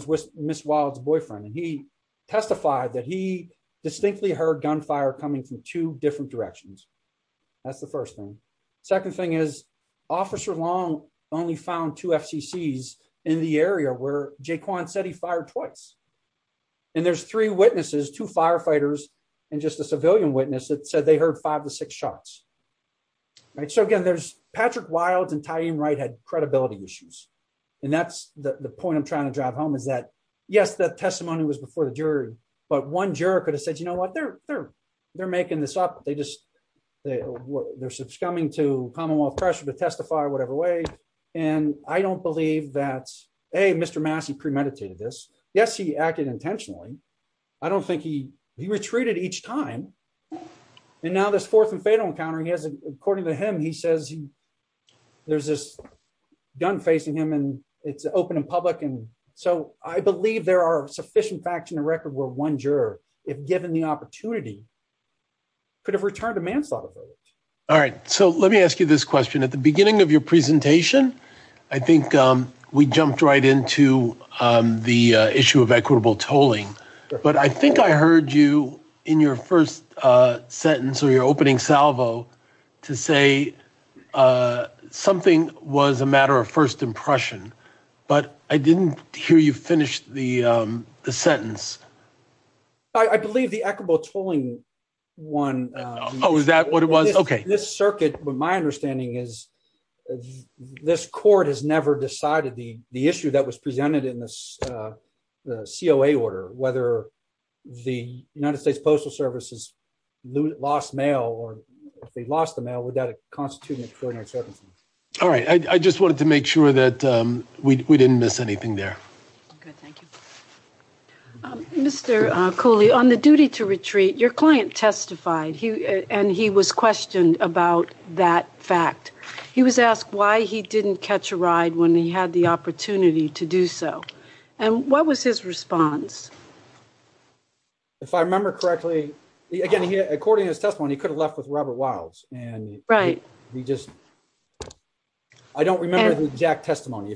APCs in the area where Jay Kwan said he fired twice. And there's three witnesses, two firefighters, and just a civilian witness that said they heard five or six shots. So again, Patrick Wilde and Tyreen Wright had credibility issues. And that's the point I'm trying to drive home is that, yes, the testimony was before the jury, but one juror could have said, you know what, they're making this up. They're succumbing to common law pressure to testify whatever way. And I don't believe that, hey, Mr. Massey premeditated this. Yes, he acted intentionally. I don't think he – he retreated each time. And now this fourth and fatal encounter, according to him, he says there's this gun facing him and it's open and public. And so I believe there are sufficient facts in the record where one juror, if given the opportunity, could have returned a manslaughter. All right. So let me ask you this question. At the beginning of your presentation, I think we jumped right into the issue of equitable tolling. But I think I heard you in your first sentence or your opening salvo to say something was a matter of first impression. But I didn't hear you finish the sentence. I believe the equitable tolling one – Oh, is that what it was? Okay. This circuit, my understanding is this court has never decided the issue that was presented in the COA order, whether the United States Postal Service has lost mail or if they lost the mail, would that constitute an extraordinary service? All right. I just wanted to make sure that we didn't miss anything there. Okay. Thank you. Mr. Cooley, on the duty to retreat, your client testified and he was questioned about that fact. He was asked why he didn't catch a ride when he had the opportunity to do so. And what was his response? If I remember correctly, again, according to his testimony, he could have left with Robert Wiles. Right. I don't remember the exact testimony.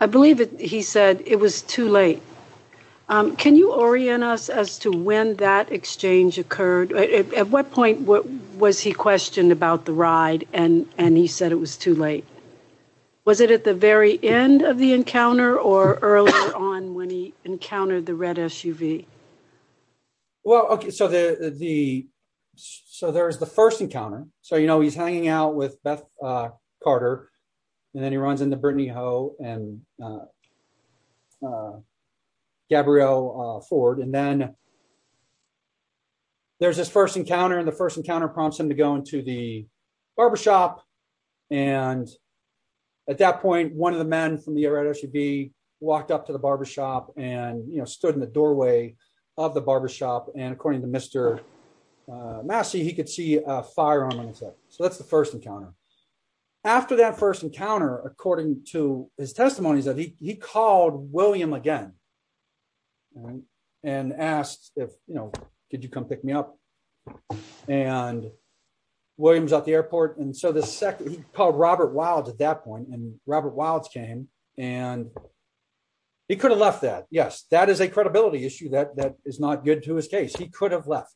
I believe he said it was too late. Can you orient us as to when that exchange occurred? At what point was he questioned about the ride and he said it was too late? Was it at the very end of the encounter or earlier on when he encountered the red SUV? Well, okay, so there's the first encounter. So, you know, he's hanging out with Beth Carter and then he runs into Brittany Ho and Gabrielle Ford. And then there's this first encounter and the first encounter prompts him to go into the barbershop. And at that point, one of the men from the red SUV walked up to the barbershop and, you know, stood in the doorway of the barbershop. And according to Mr. Massey, he could see a firearm on his head. So that's the first encounter. After that first encounter, according to his testimony, he called William again. And asked, you know, did you come pick me up? And William's at the airport. And so he called Robert Wiles at that point and Robert Wiles came and he could have left that. Yes, that is a credibility issue that is not good to his case. He could have left.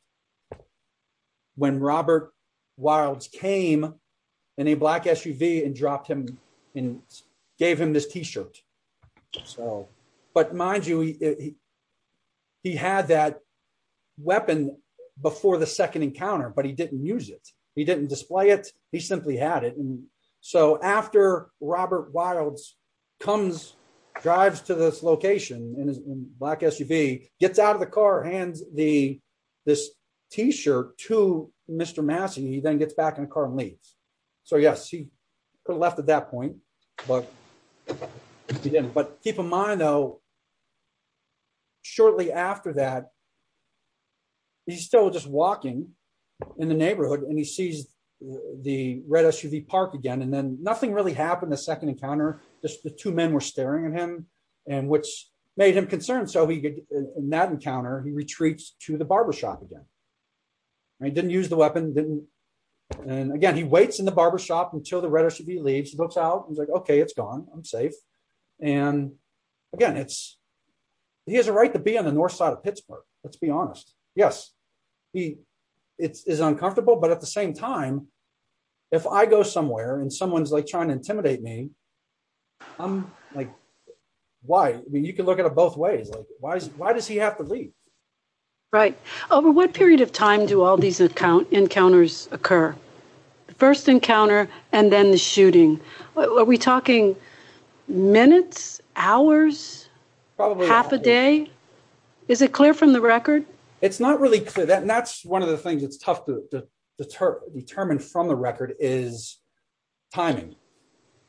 When Robert Wiles came in a black SUV and dropped him and gave him this T-shirt. But mind you, he had that weapon before the second encounter, but he didn't use it. He didn't display it. He simply had it. And so after Robert Wiles comes, drives to this location in a black SUV, gets out of the car, hands this T-shirt to Mr. Massey, he then gets back in the car and leaves. So, yes, he could have left at that point, but he didn't. But keep in mind, though, shortly after that, he's still just walking in the neighborhood and he sees the red SUV parked again. And then nothing really happened the second encounter. Just the two men were staring at him, which made him concerned. So in that encounter, he retreats to the barbershop again. He didn't use the weapon. And again, he waits in the barbershop until the red SUV leaves. He looks out. He's like, okay, it's gone. I'm safe. And again, he has a right to be on the north side of Pittsburgh, let's be honest. Yes, he is uncomfortable, but at the same time, if I go somewhere and someone's trying to intimidate me, I'm like, why? I mean, you can look at it both ways. Why does he have to leave? Right. Over what period of time do all these encounters occur? The first encounter and then the shooting. Are we talking minutes? Hours? Half a day? Is it clear from the record? It's not really clear. And that's one of the things that's tough to determine from the record is timing.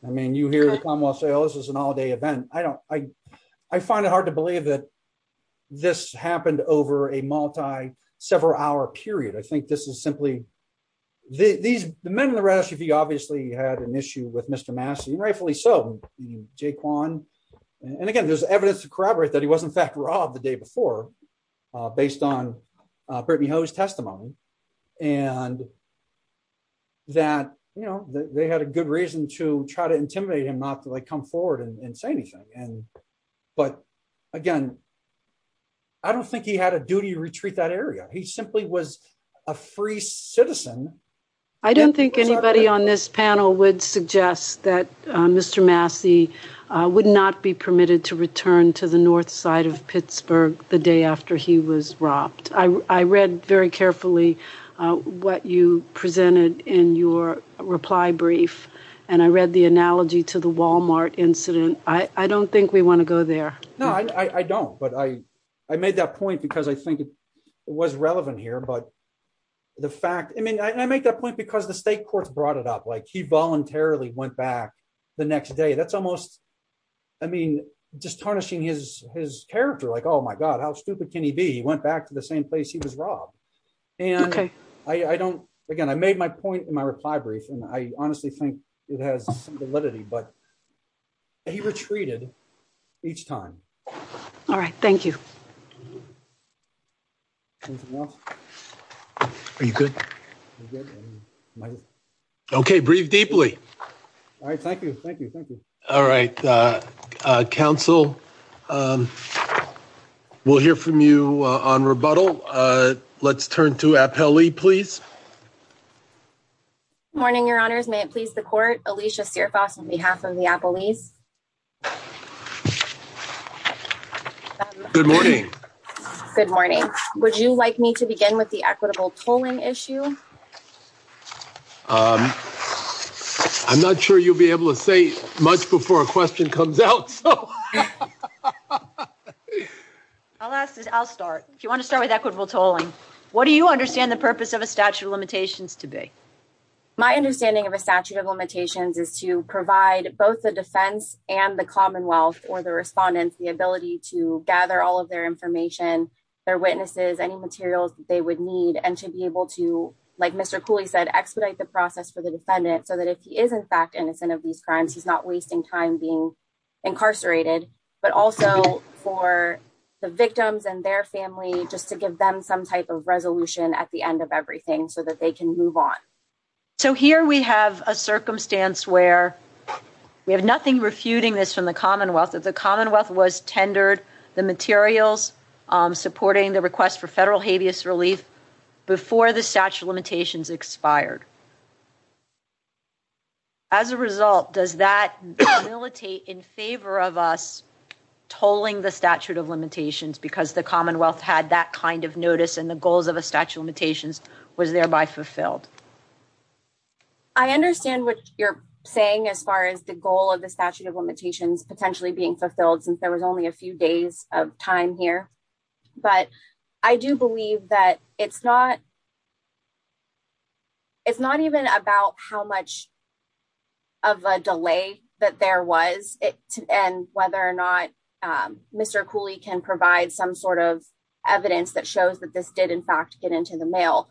I mean, you hear the Commonwealth say, oh, this is an all day event. I find it hard to believe that this happened over a multi, several hour period. I think this is simply the men in the red SUV obviously had an issue with Mr. Massey and rightfully so. And again, there's evidence to corroborate that he was in fact robbed the day before based on Brittany Ho's testimony. I don't think anybody on this panel would suggest that Mr. Massey would not be permitted to return to the north side of Pittsburgh the day after he was robbed. I read very carefully what you presented in your reply brief and I read the analogy to the Walmart incident. I don't think we want to go there. No, I don't. But I made that point because I think it was relevant here. But the fact, I mean, I make that point because the state court brought it up. Like, he voluntarily went back the next day. That's almost, I mean, just tarnishing his character. Like, oh, my God, how stupid can he be? He went back to the same place. He was robbed. Okay. I don't again. I made my point in my reply brief and I honestly think it has validity, but he retreated each time. All right. Thank you. Are you good? Okay. Breathe deeply. All right. Thank you. Thank you. Thank you. All right. Council, we'll hear from you on rebuttal. Let's turn to appellee, please. Good morning, your honors. May it please the court, Alicia Fierfox on behalf of the appellees? Good morning. Good morning. Would you like me to begin with the equitable tolling issue? I'm not sure you'll be able to say much before a question comes out. I'll ask. I'll start. Do you want to start with equitable tolling? What do you understand the purpose of a statute of limitations today? My understanding of a statute of limitations is to provide both the defense and the Commonwealth or the respondents, the ability to gather all of their information, their witnesses, any materials they would need, and to be able to, like Mr. Williams and their family, just to give them some type of resolution at the end of everything so that they can move on. So here we have a circumstance where we have nothing refuting this from the Commonwealth. The Commonwealth was tendered the materials supporting the request for federal habeas relief before the statute of limitations expired. As a result, does that militate in favor of us tolling the statute of limitations because the Commonwealth had that kind of notice and the goals of a statute of limitations was thereby fulfilled? I understand what you're saying as far as the goal of the statute of limitations potentially being fulfilled since there was only a few days of time here. But I do believe that it's not even about how much of a delay that there was and whether or not Mr. Cooley can provide some sort of evidence that shows that this did, in fact, get into the mail.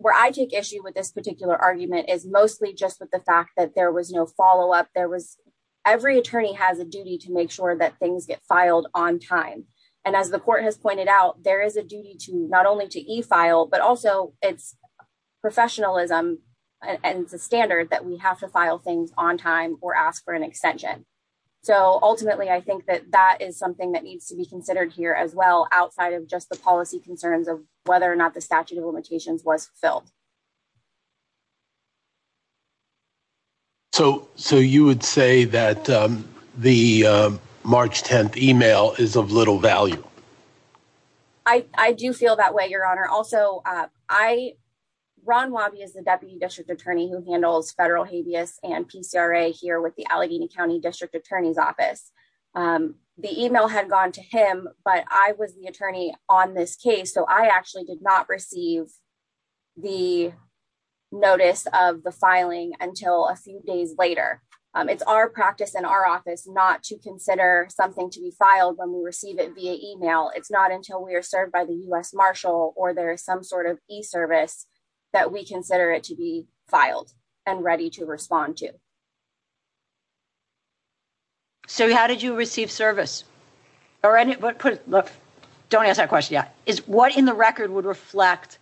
Where I take issue with this particular argument is mostly just with the fact that there was no follow-up. Every attorney has a duty to make sure that things get filed on time. And as the court has pointed out, there is a duty to not only to e-file, but also it's professionalism and the standard that we have to file things on time or ask for an extension. So, ultimately, I think that that is something that needs to be considered here as well, outside of just the policy concerns of whether or not the statute of limitations was filled. So you would say that the March 10th email is of little value? I do feel that way, Your Honor. Also, Ron Wabi is the Deputy District Attorney who handles federal habeas and PCRA here with the Allegheny County District Attorney's Office. The email had gone to him, but I was the attorney on this case, so I actually did not receive the notice of the filing until a few days later. It's our practice in our office not to consider something to be filed when we receive it via email. It's not until we are served by the U.S. Marshal or there is some sort of e-service that we consider it to be filed and ready to respond to. So how did you receive service? Don't answer that question yet. What in the record would reflect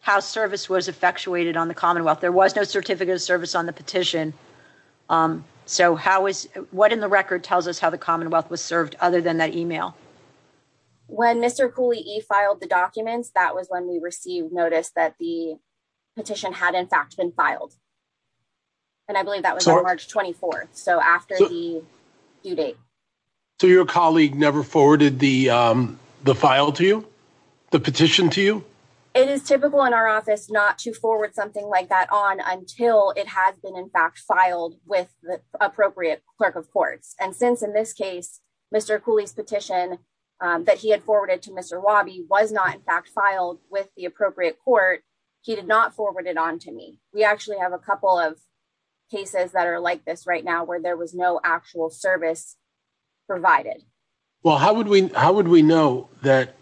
how service was effectuated on the Commonwealth? There was no certificate of service on the petition, so what in the record tells us how the Commonwealth was served other than that email? When Mr. Cooley e-filed the documents, that was when we received notice that the petition had in fact been filed. And I believe that was on March 24th, so after the due date. So your colleague never forwarded the file to you? The petition to you? It is typical in our office not to forward something like that on until it has been in fact filed with the appropriate clerk of court. And since in this case, Mr. Cooley's petition that he had forwarded to Mr. Wabi was not in fact filed with the appropriate court, he did not forward it on to me. We actually have a couple of cases that are like this right now where there was no actual service provided. Well, how would we know that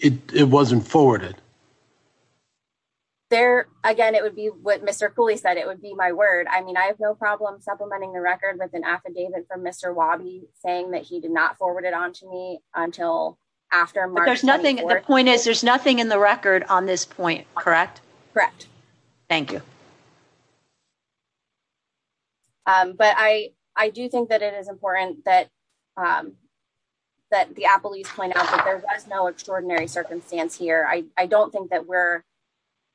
it wasn't forwarded? Again, it would be what Mr. Cooley said. It would be my word. I mean, I have no problem supplementing the record with an affidavit from Mr. Wabi saying that he did not forward it on to me until after March 24th. But the point is, there's nothing in the record on this point, correct? Correct. Thank you. But I do think that it is important that the appellees point out that there's no extraordinary circumstance here. I don't think that we're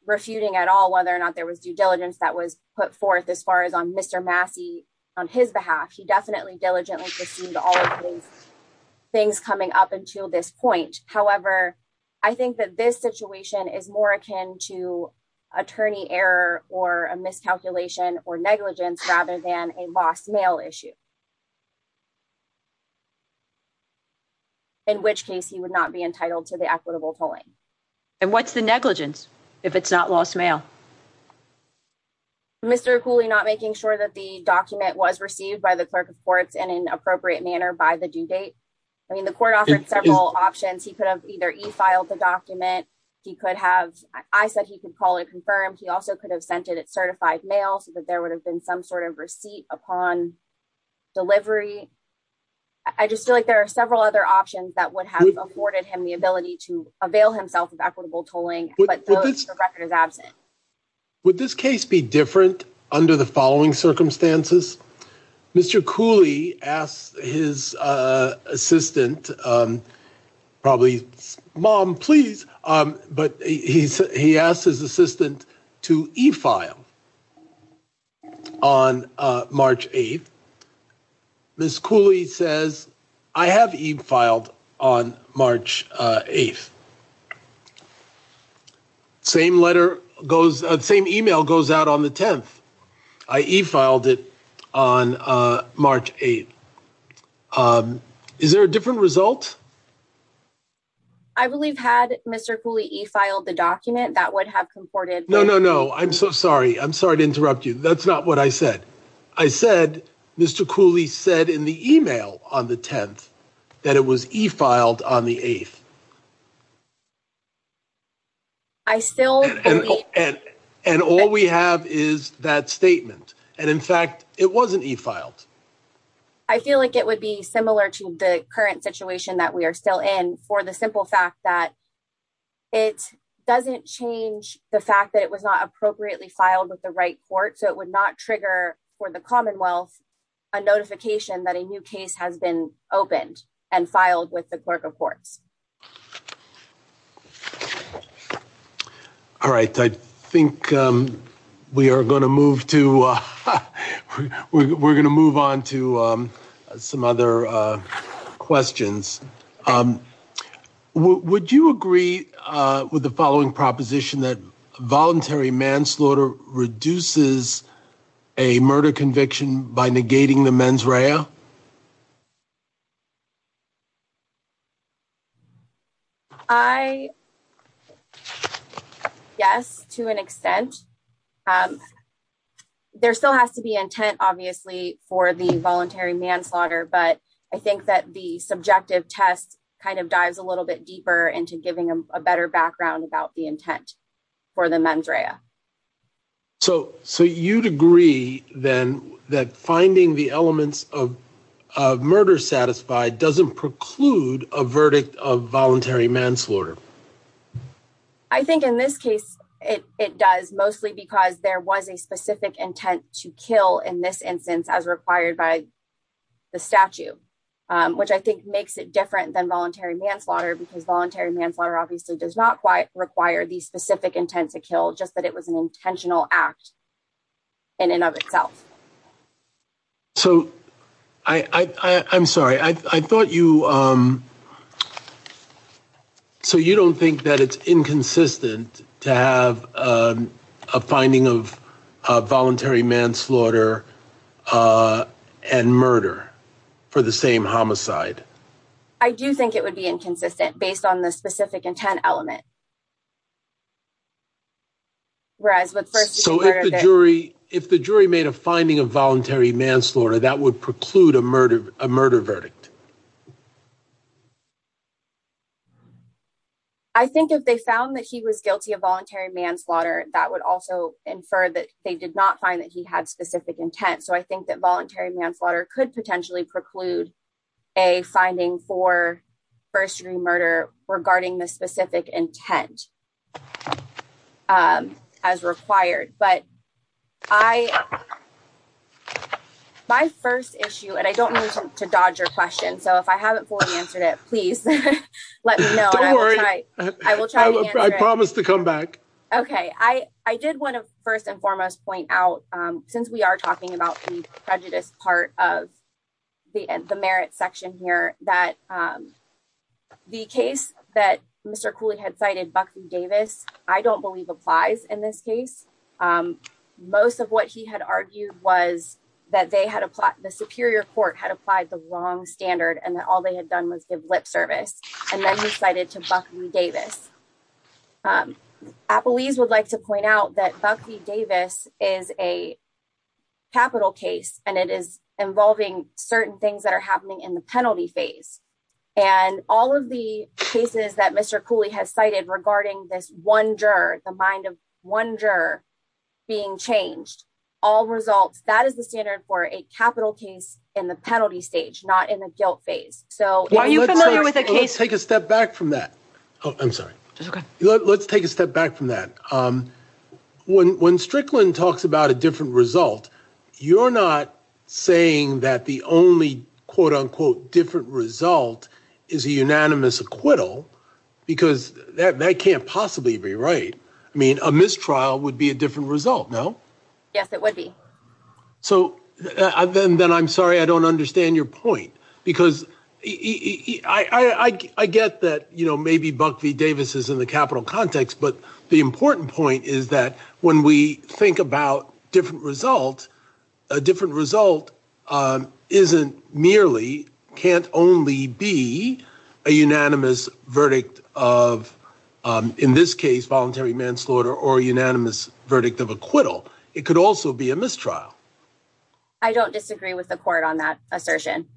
refuting at all whether or not there was due diligence that was put forth as far as on Mr. Massey, on his behalf. He definitely diligently pursued all of these things coming up until this point. However, I think that this situation is more akin to attorney error or a miscalculation or negligence rather than a lost mail issue. In which case he would not be entitled to the equitable polling. And what's the negligence if it's not lost mail? Mr. Cooley not making sure that the document was received by the clerk of courts in an appropriate manner by the due date. I mean, the court offered several options. He could have either e-filed the document. He could have, I said he could call it confirmed. He also could have sent it at certified mail so that there would have been some sort of receipt upon delivery. I just feel like there are several other options that would have afforded him the ability to avail himself of equitable tolling. Would this case be different under the following circumstances? Mr. Cooley asked his assistant, probably, mom please, but he asked his assistant to e-file on March 8th. Ms. Cooley says, I have e-filed on March 8th. Same letter goes, same email goes out on the 10th. I e-filed it on March 8th. Is there a different result? I believe had Mr. Cooley e-filed the document that would have comported. No, no, no. I'm so sorry. I'm sorry to interrupt you. That's not what I said. I said, Mr. Cooley said in the email on the 10th that it was e-filed on the 8th. And all we have is that statement. And in fact, it wasn't e-filed. I feel like it would be similar to the current situation that we are still in for the simple fact that it doesn't change the fact that it was not appropriately filed with the right court. So it would not trigger for the Commonwealth a notification that a new case has been opened and filed with the clerk of court. All right. I think we are going to move to we're going to move on to some other questions. Would you agree with the following proposition that voluntary manslaughter reduces a murder conviction by negating the mens rea? I guess, to an extent, there still has to be intent, obviously, for the voluntary manslaughter. But I think that the subjective test kind of dives a little bit deeper into giving them a better background about the intent for the mens rea. So you'd agree, then, that finding the elements of murder satisfied doesn't preclude a verdict of voluntary manslaughter? I think in this case it does, mostly because there was a specific intent to kill in this instance as required by the statute, which I think makes it different than voluntary manslaughter. Because voluntary manslaughter obviously does not require the specific intent to kill, just that it was an intentional act in and of itself. So, I'm sorry, I thought you... So you don't think that it's inconsistent to have a finding of voluntary manslaughter and murder for the same homicide? I do think it would be inconsistent, based on the specific intent element. So if the jury made a finding of voluntary manslaughter, that would preclude a murder verdict? I think if they found that he was guilty of voluntary manslaughter, that would also infer that they did not find that he had specific intent. So I think that voluntary manslaughter could potentially preclude a finding for first-degree murder regarding the specific intent as required. My first issue, and I don't mean to dodge your question, so if I haven't fully answered it, please let me know. Don't worry, I promise to come back. Okay, I did want to first and foremost point out, since we are talking about the prejudice part of the merit section here, that the case that Mr. Cooley had cited, Buckley-Davis, I don't believe applies in this case. Most of what he had argued was that the Superior Court had applied the wrong standard and that all they had done was give lip service. And then he cited to Buckley-Davis. Applebees would like to point out that Buckley-Davis is a capital case, and it is involving certain things that are happening in the penalty phase. And all of the cases that Mr. Cooley has cited regarding this one juror, the mind of one juror being changed, all result, that is a standard for a capital case in the penalty stage, not in the guilt phase. Let's take a step back from that. I'm sorry. It's okay. Let's take a step back from that. When Strickland talks about a different result, you're not saying that the only quote-unquote different result is a unanimous acquittal, because that can't possibly be right. I mean, a mistrial would be a different result, no? Yes, it would be. So then I'm sorry I don't understand your point, because I get that, you know, maybe Buckley-Davis is in the capital context, but the important point is that when we think about different result, a different result isn't merely, can't only be, a unanimous verdict of, in this case, voluntary manslaughter or a unanimous verdict of acquittal. It could also be a mistrial. I don't disagree with the court on that assertion.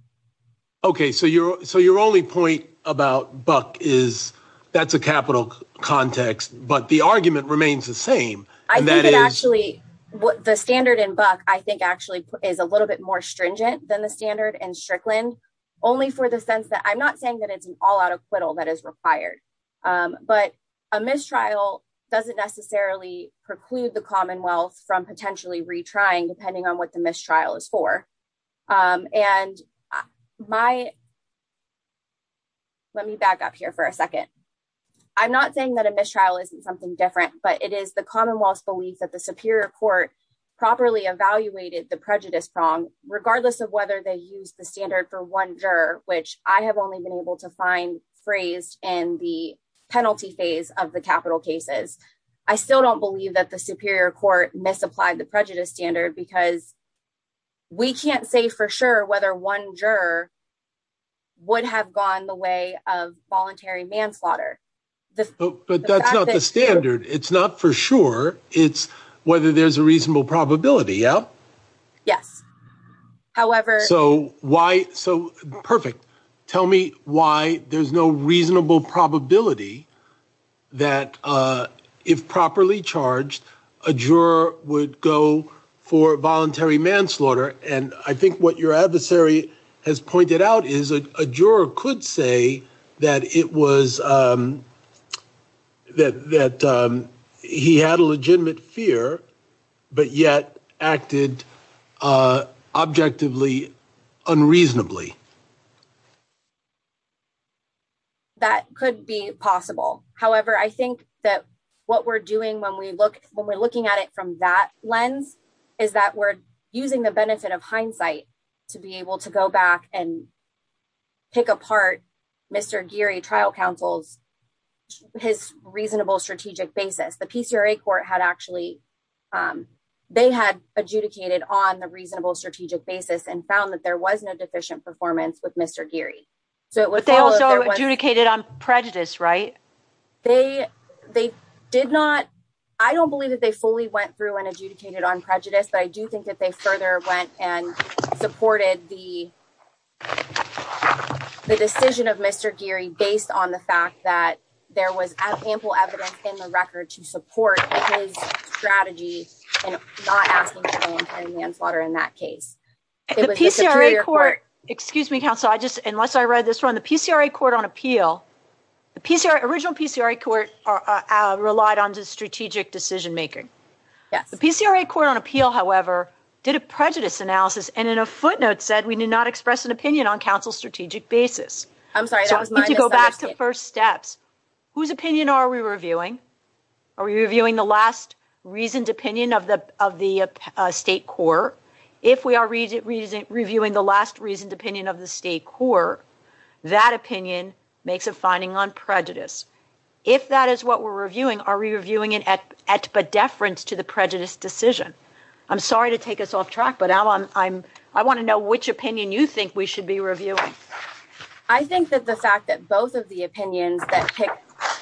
Okay. So your only point about Buck is that's a capital context, but the argument remains the same. I think it actually, the standard in Buck, I think, actually is a little bit more stringent than the standard in Strickland, only for the sense that I'm not saying that it's an all-out acquittal that is required. But a mistrial doesn't necessarily preclude the Commonwealth from potentially retrying, depending on what the mistrial is for. And my, let me back up here for a second. I'm not saying that a mistrial isn't something different, but it is the Commonwealth's belief that the Superior Court properly evaluated the prejudice song, regardless of whether they use the standard for one juror, which I have only been able to find phrased in the penalty phase of the capital cases. I still don't believe that the Superior Court misapplied the prejudice standard because we can't say for sure whether one juror would have gone the way of voluntary manslaughter. But that's not the standard. It's not for sure. It's whether there's a reasonable probability, yeah? Yes. Perfect. Tell me why there's no reasonable probability that if properly charged, a juror would go for voluntary manslaughter. And I think what your adversary has pointed out is that a juror could say that it was, that he had a legitimate fear, but yet acted objectively unreasonably. That could be possible. However, I think that what we're doing when we look, when we're looking at it from that lens, is that we're using the benefit of hindsight to be able to go back and pick apart Mr. Geary trial counsel's, his reasonable strategic basis. The PCRA court had actually, they had adjudicated on the reasonable strategic basis and found that there was no deficient performance with Mr. Geary. But they also adjudicated on prejudice, right? They did not, I don't believe that they fully went through and adjudicated on prejudice, but I do think that they further went and supported the decision of Mr. Geary based on the fact that there was ample evidence in the record to support his strategy and not asking for voluntary manslaughter in that case. The PCRA court, excuse me, counsel, I just, unless I read this wrong, the PCRA court on appeal, the PCRA, original PCRA court relied on the strategic decision-making. The PCRA court on appeal, however, did a prejudice analysis and in a footnote said we did not express an opinion on counsel's strategic basis. Go back to first steps. Whose opinion are we reviewing? Are we reviewing the last reasoned opinion of the state court? If we are reviewing the last reasoned opinion of the state court, that opinion makes a finding on prejudice. If that is what we're reviewing, are we reviewing it at a deference to the prejudice decision? I'm sorry to take us off track, but I want to know which opinion you think we should be reviewing. I think that the fact that both of the opinions that pick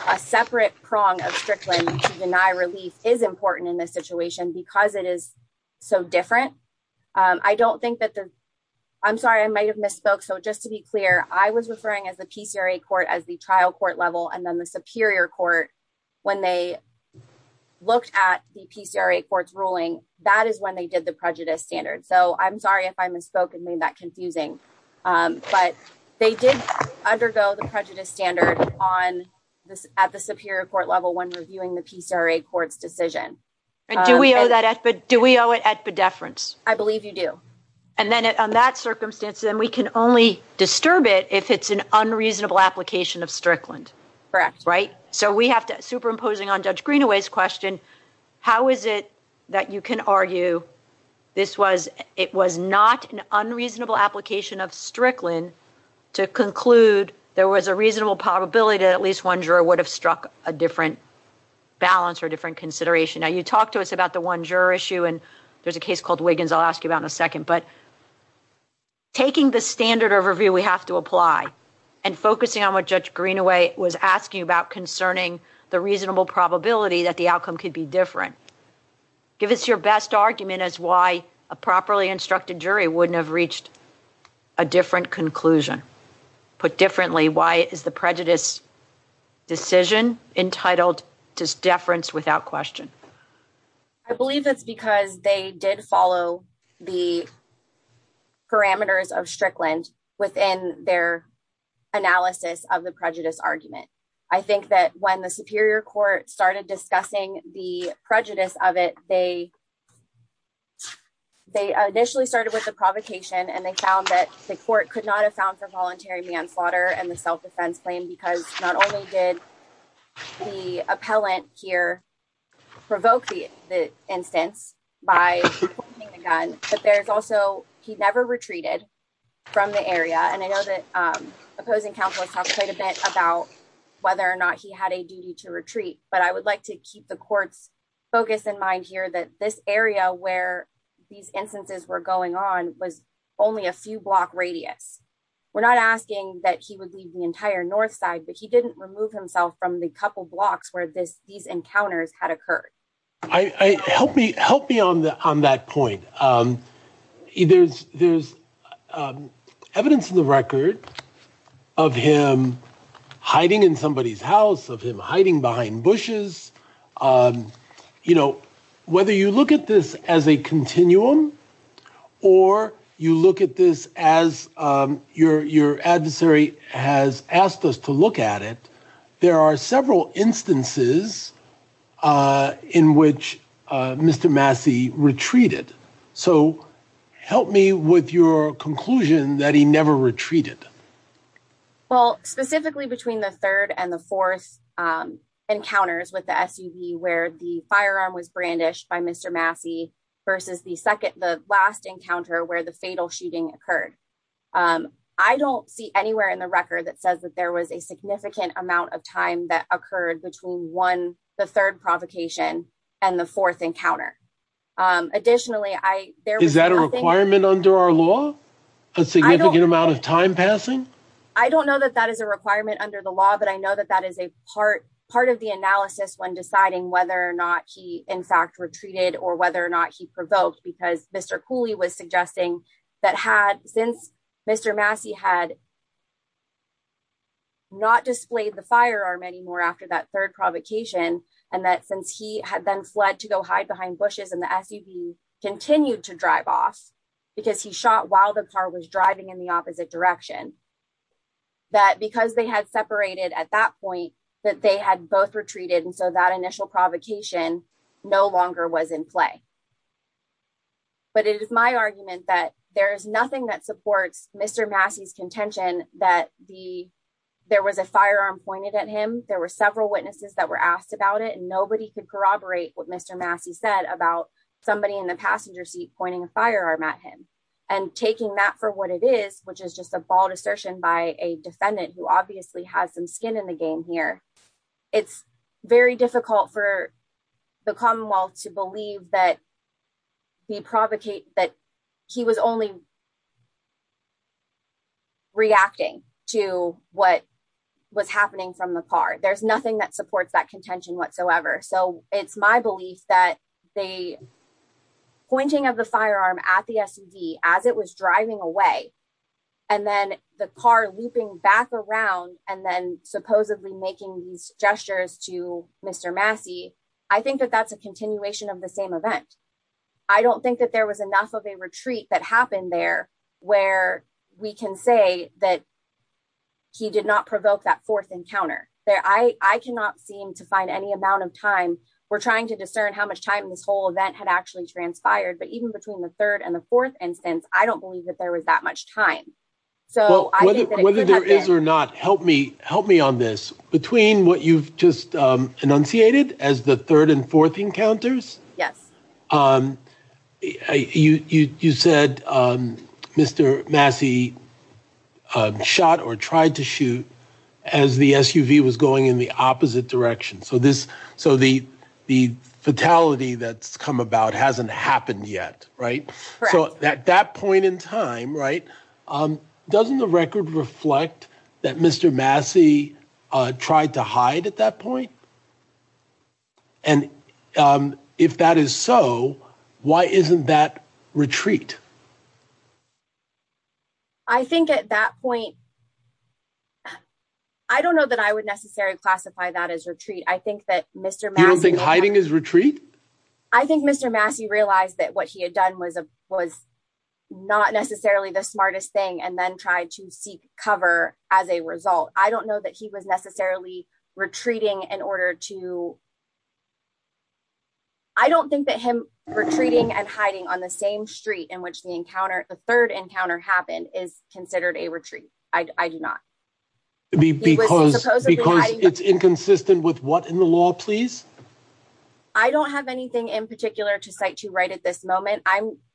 a separate prong of Strickland to deny relief is important in this situation because it is so different. I don't think that there's, I'm sorry, I might have misspoke. So just to be clear, I was referring as a PCRA court as the trial court level and then the superior court, when they looked at the PCRA court's ruling, that is when they did the prejudice standard. So I'm sorry if I misspoke and made that confusing. But they did undergo the prejudice standard at the superior court level when reviewing the PCRA court's decision. Do we owe it at the deference? I believe you do. And then on that circumstance, then we can only disturb it if it's an unreasonable application of Strickland. Correct. Right? So we have to, superimposing on Judge Greenaway's question, how is it that you can argue this was, it was not an unreasonable application of Strickland to conclude there was a reasonable probability that at least one juror would have struck a different balance or different consideration? Now you talked to us about the one juror issue and there's a case called Wiggins I'll ask you about in a second. But taking the standard overview we have to apply and focusing on what Judge Greenaway was asking about concerning the reasonable probability that the outcome could be different, give us your best argument as why a properly instructed jury wouldn't have reached a different conclusion. Put differently, why is the prejudice decision entitled to deference without question? I believe that's because they did follow the parameters of Strickland within their analysis of the prejudice argument. I think that when the Superior Court started discussing the prejudice of it, they initially started with the provocation and they found that the court could not have found for voluntary manslaughter and the self-defense claim because not only did the appellant here provoke the infant by pointing the gun, but there's also, he never retreated from the area. And I know that opposing counsel talked quite a bit about whether or not he had a duty to retreat, but I would like to keep the court's focus in mind here that this area where these instances were going on was only a few block radius. We're not asking that he would leave the entire north side, but he didn't remove himself from the couple blocks where these encounters had occurred. Help me on that point. There's evidence in the record of him hiding in somebody's house, of him hiding behind bushes. Whether you look at this as a continuum or you look at this as your adversary has asked us to look at it, there are several instances in which Mr. Massey retreated. So help me with your conclusion that he never retreated. Well, specifically between the third and the fourth encounters with the SUV where the firearm was brandished by Mr. Massey versus the last encounter where the fatal shooting occurred. I don't see anywhere in the record that says that there was a significant amount of time that occurred between the third provocation and the fourth encounter. Is that a requirement under our law? A significant amount of time passing? I don't know that that is a requirement under the law, but I know that that is a part of the analysis when deciding whether or not he in fact retreated or whether or not he provoked because Mr. Cooley was suggesting that since Mr. Massey had not displayed the firearm anymore after that third provocation, and that since he had then fled to go hide behind bushes and the SUV continued to drive off because he shot while the car was driving in the opposite direction, that because they had separated at that point that they had both retreated and so that initial provocation no longer was in play. But it is my argument that there is nothing that supports Mr. Massey's contention that there was a firearm pointed at him. There were several witnesses that were asked about it and nobody could corroborate what Mr. Massey said about somebody in the passenger seat pointing a firearm at him. And taking that for what it is, which is just a bold assertion by a defendant who obviously has some skin in the game here, it's very difficult for the Commonwealth to believe that he was only reacting to what was happening from the car. There's nothing that supports that contention whatsoever. So it's my belief that the pointing of the firearm at the SUV as it was driving away and then the car looping back around and then supposedly making these gestures to Mr. Massey, I think that that's a continuation of the same event. I don't think that there was enough of a retreat that happened there where we can say that he did not provoke that fourth encounter. I cannot seem to find any amount of time. We're trying to discern how much time this whole event had actually transpired. But even between the third and the fourth instance, I don't believe that there was that much time. Whether there is or not, help me on this. Between what you've just enunciated as the third and fourth encounters, you said Mr. Massey shot or tried to shoot as the SUV was going in the opposite direction. So the fatality that's come about hasn't happened yet. So at that point in time, doesn't the record reflect that Mr. Massey tried to hide at that point? And if that is so, why isn't that retreat? I think at that point, I don't know that I would necessarily classify that as retreat. You don't think hiding is retreat? I think Mr. Massey realized that what he had done was not necessarily the smartest thing and then tried to seek cover as a result. I don't know that he was necessarily retreating in order to... I don't think that him retreating and hiding on the same street in which the third encounter happened is considered a retreat. I do not. Because it's inconsistent with what in the law, please? I don't have anything in particular to cite you right at this moment.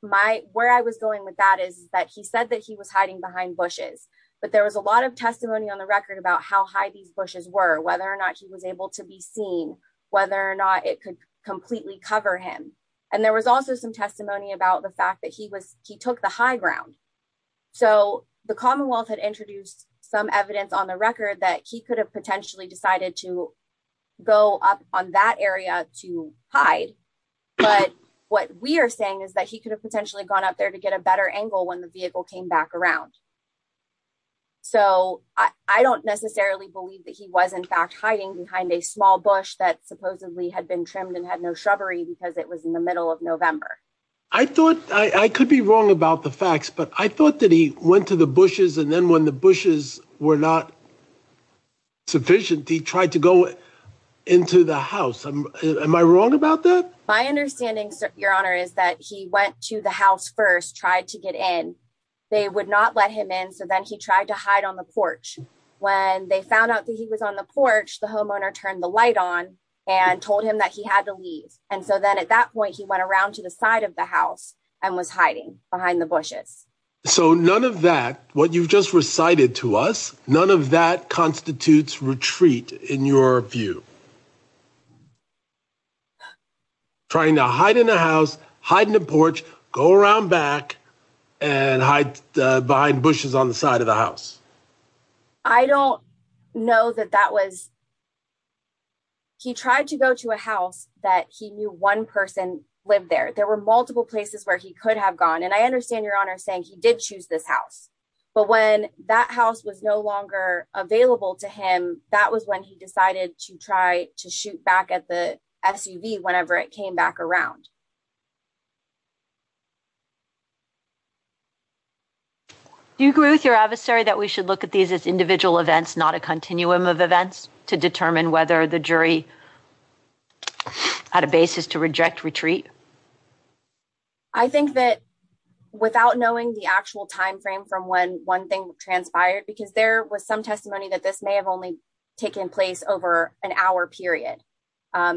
Where I was going with that is that he said that he was hiding behind bushes. But there was a lot of testimony on the record about how high these bushes were, whether or not he was able to be seen, whether or not it could completely cover him. And there was also some testimony about the fact that he took the high ground. So the Commonwealth had introduced some evidence on the record that he could have potentially decided to go up on that area to hide. But what we are saying is that he could have potentially gone up there to get a better angle when the vehicle came back around. So I don't necessarily believe that he was in fact hiding behind a small bush that supposedly had been trimmed and had no shrubbery because it was in the middle of November. I thought... I could be wrong about the facts, but I thought that he went to the bushes and then when the bushes were not sufficient, he tried to go into the house. Am I wrong about that? My understanding, Your Honor, is that he went to the house first, tried to get in. They would not let him in, so then he tried to hide on the porch. When they found out that he was on the porch, the homeowner turned the light on and told him that he had to leave. And so then at that point, he went around to the side of the house and was hiding behind the bushes. So none of that, what you've just recited to us, none of that constitutes retreat in your view. Trying to hide in the house, hide in the porch, go around back, and hide behind bushes on the side of the house. I don't know that that was... He tried to go to a house that he knew one person lived there. There were multiple places where he could have gone, and I understand, Your Honor, saying he did choose this house. But when that house was no longer available to him, that was when he decided to try to shoot back at the SUV whenever it came back around. Do you agree with your adversary that we should look at these as individual events, not a continuum of events, to determine whether the jury had a basis to reject retreat? I think that without knowing the actual timeframe from when one thing transpired, because there was some testimony that this may have only taken place over an hour period. I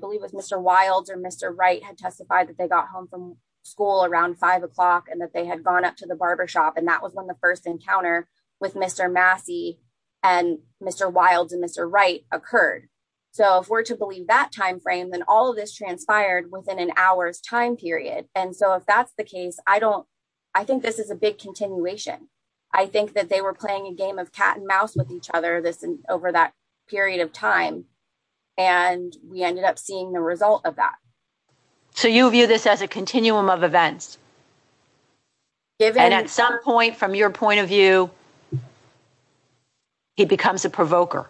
believe it was Mr. Wilds or Mr. Wright had testified that they got home from school around five o'clock and that they had gone up to the barbershop. And that was when the first encounter with Mr. Massey and Mr. Wilds and Mr. Wright occurred. So if we're to believe that timeframe, then all of this transpired within an hour's time period. And so if that's the case, I think this is a big continuation. I think that they were playing a game of cat and mouse with each other over that period of time, and we ended up seeing the result of that. So you view this as a continuum of events? And at some point, from your point of view, he becomes a provoker?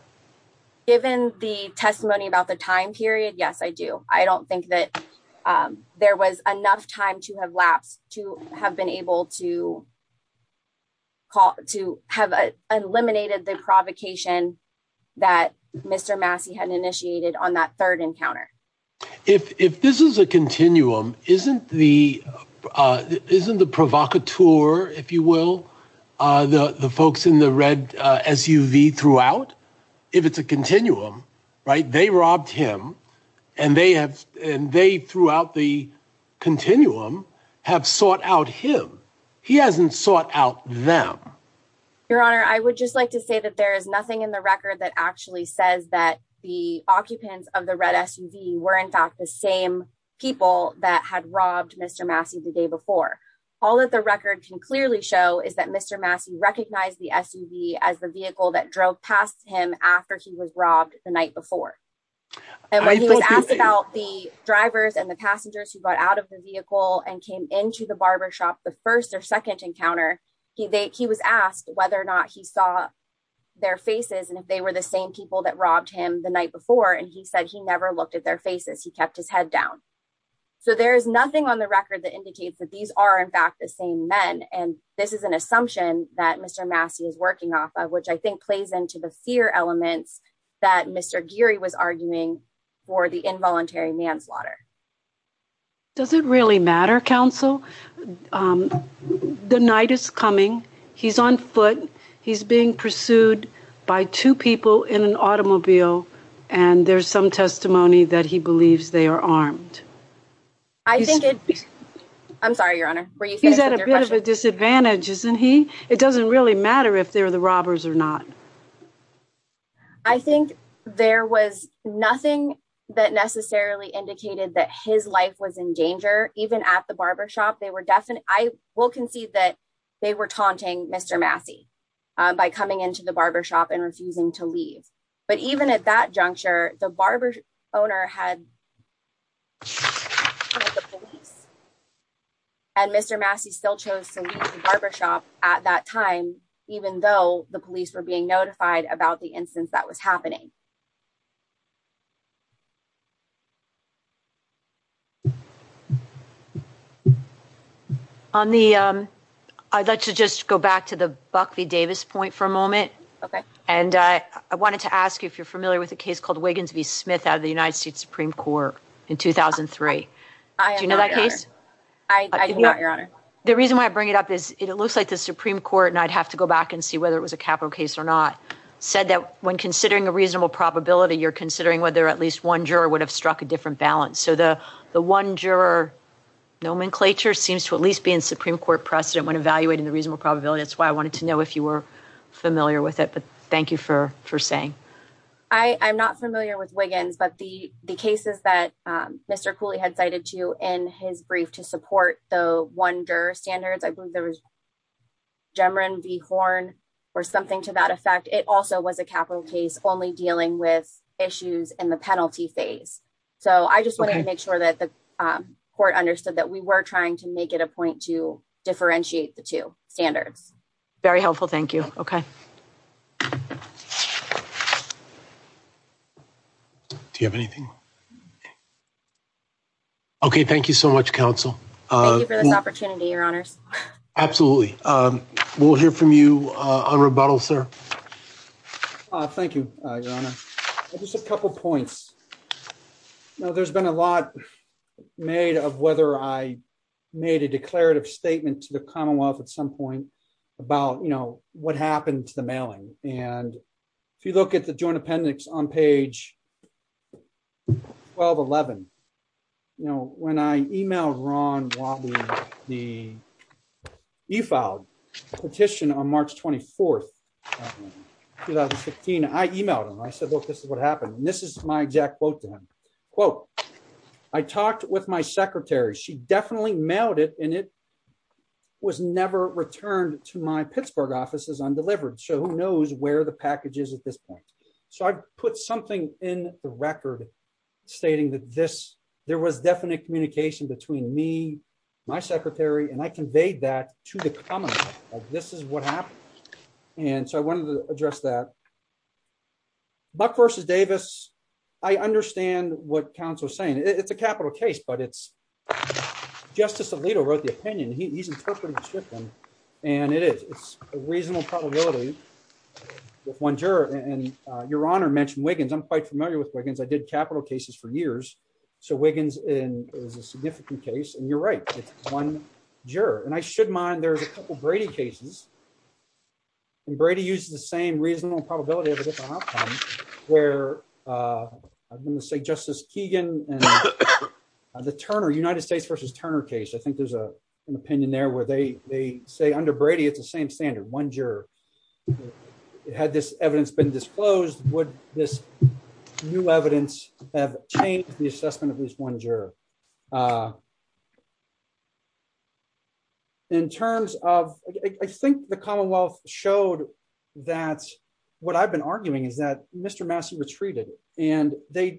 Given the testimony about the time period, yes, I do. I don't think that there was enough time to have been able to have eliminated the provocation that Mr. Massey had initiated on that third encounter. If this is a continuum, isn't the provocateur, if you will, the folks in the red SUV throughout? If it's a continuum, right, they robbed him and they throughout the continuum have sought out him. He hasn't sought out them. Your Honor, I would just like to say that there is nothing in the record that actually says that the occupants of the red SUV were in fact the same people that had robbed Mr. Massey the day before. All of the records can clearly show is that Mr. Massey recognized the SUV as the vehicle that drove past him after he was robbed the night before. And when he was asked about the drivers and the passengers who got out of the vehicle and came into the barbershop the first or second encounter, he was asked whether or not he saw their faces and if they were the same people that robbed him the night before. And he said he never looked at their faces. He kept his head down. So there is nothing on the record that indicates that these are in fact the same men. And this is an assumption that Mr. Massey is working off of, which I think plays into the fear element that Mr. Geary was arguing for the involuntary manslaughter. Does it really matter, counsel? The night is coming. He's on foot. He's being pursued by two people in an automobile, and there's some testimony that he believes they are armed. I think it's... I'm sorry, Your Honor. He's at a bit of a disadvantage, isn't he? It doesn't really matter if they're the robbers or not. I think there was nothing that necessarily indicated that his life was in danger, even at the barbershop. I will concede that they were taunting Mr. Massey by coming into the barbershop and refusing to leave. But even at that juncture, the barbershop owner had told the police. And Mr. Massey still chose to leave the barbershop at that time, even though the police were being notified about the instance that was happening. On the... I'd like to just go back to the Buck v. Davis point for a moment. Okay. And I wanted to ask you if you're familiar with a case called Wiggins v. Smith out of the United States Supreme Court in 2003. I am not, Your Honor. Do you know that case? I do not, Your Honor. The reason why I bring it up is it looks like the Supreme Court, and I'd have to go back and see whether it was a capital case or not, said that when considering a reasonable probability, you're considering whether at least one juror would have struck a different balance. So the one juror nomenclature seems to at least be in Supreme Court precedent when evaluating the reasonable probability. That's why I wanted to know if you were familiar with it. Thank you for saying. I'm not familiar with Wiggins, but the cases that Mr. Cooley had cited to you in his brief to support the one juror standard, I believe there was Gemeron v. Horn or something to that effect. It also was a capital case only dealing with issues in the penalty phase. So I just want to make sure that the court understood that we were trying to make it a point to differentiate the two standards. Very helpful. Thank you. Okay. Do you have anything? Okay. Thank you so much, counsel. Thank you for this opportunity, Your Honor. Absolutely. We'll hear from you on rebuttal, sir. Thank you, Your Honor. Just a couple points. Now, there's been a lot made of whether I made a declarative statement to the Commonwealth at some point about, you know, what happened to the mailing. And if you look at the Joint Appendix on page 1211, you know, when I emailed Ron Wadley the e-filed petition on March 24th, 2016, I emailed him. I said, look, this is what happened. And this is my exact quote to him. Quote, I talked with my secretary. She definitely mailed it, and it was never returned to my Pittsburgh office as undelivered. So who knows where the package is at this point. So I put something in the record stating that this, there was definite communication between me, my secretary, and I conveyed that to the Commonwealth, that this is what happened. And so I wanted to address that. Buck v. Davis, I understand what counsel is saying. It's a capital case, but it's, Justice Alito wrote the opinion. And it is. It's a reasonable probability with one juror. And Your Honor mentioned Wiggins. I'm quite familiar with Wiggins. I did capital cases for years. So Wiggins is a significant case. And you're right. It's one juror. And I should mind, there's a couple Brady cases. And Brady used the same reasonable probability of a different outcome where, I'm going to say Justice Keegan and the Turner, United States v. Turner case. I think there's an opinion there where they say under Brady, it's the same standard, one juror. Had this evidence been disclosed, would this new evidence have changed the assessment of this one juror? In terms of, I think the Commonwealth showed that what I've been arguing is that Mr. Massey retreated. And the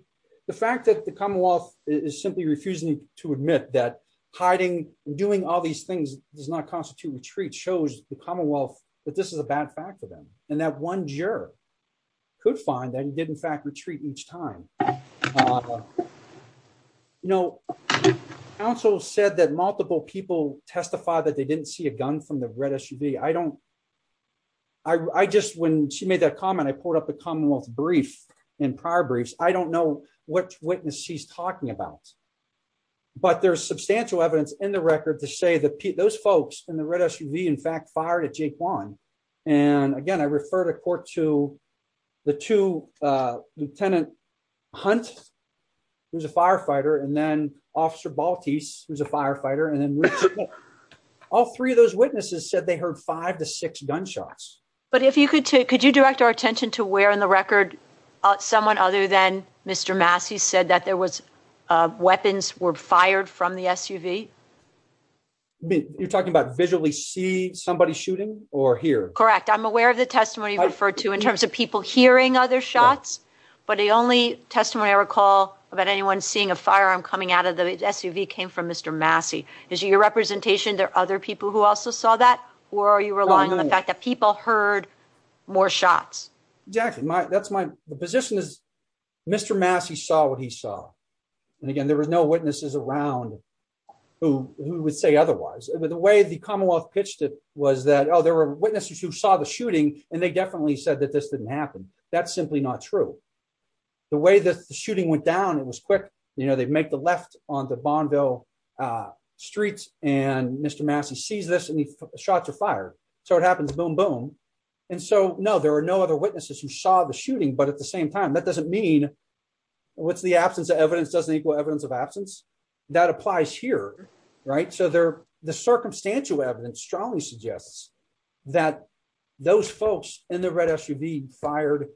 fact that the Commonwealth is simply refusing to admit that hiding and doing all these things does not constitute retreat shows the Commonwealth that this is a bad fact for them. And that one juror could find that he did, in fact, retreat each time. You know, counsel said that multiple people testified that they didn't see a gun from the red SUV. I don't, I just, when she made that comment, I pulled up the Commonwealth brief and prior briefs. I don't know which witness she's talking about. But there's substantial evidence in the record to say that those folks in the red SUV, in fact, fired at Jake Warren. And again, I refer to court to the two, Lieutenant Hunt, who's a firefighter, and then Officer Baltes, who's a firefighter. And then all three of those witnesses said they heard five to six gunshots. But if you could, could you direct our attention to where in the record someone other than Mr. Massey said that there was weapons were fired from the SUV? You're talking about visually see somebody shooting or hear? Correct. I'm aware of the testimony referred to in terms of people hearing other shots. But the only testimony I recall about anyone seeing a firearm coming out of the SUV came from Mr. Massey. Is your representation there other people who also saw that or are you relying on the fact that people heard more shots? Yeah, that's my position is Mr. Massey saw what he saw. And again, there was no witnesses around who would say otherwise. The way the Commonwealth pitched it was that, oh, there were witnesses who saw the shooting and they definitely said that this didn't happen. That's simply not true. The way that the shooting went down, it was quick. You know, they'd make the left on the Bondo streets and Mr. Massey sees this shots of fire. So it happens. Boom, boom. And so, no, there are no other witnesses who saw the shooting. But at the same time, that doesn't mean with the absence of evidence doesn't equal evidence of absence that applies here. Right. So there the circumstantial evidence strongly suggests that those folks in the red SUV fired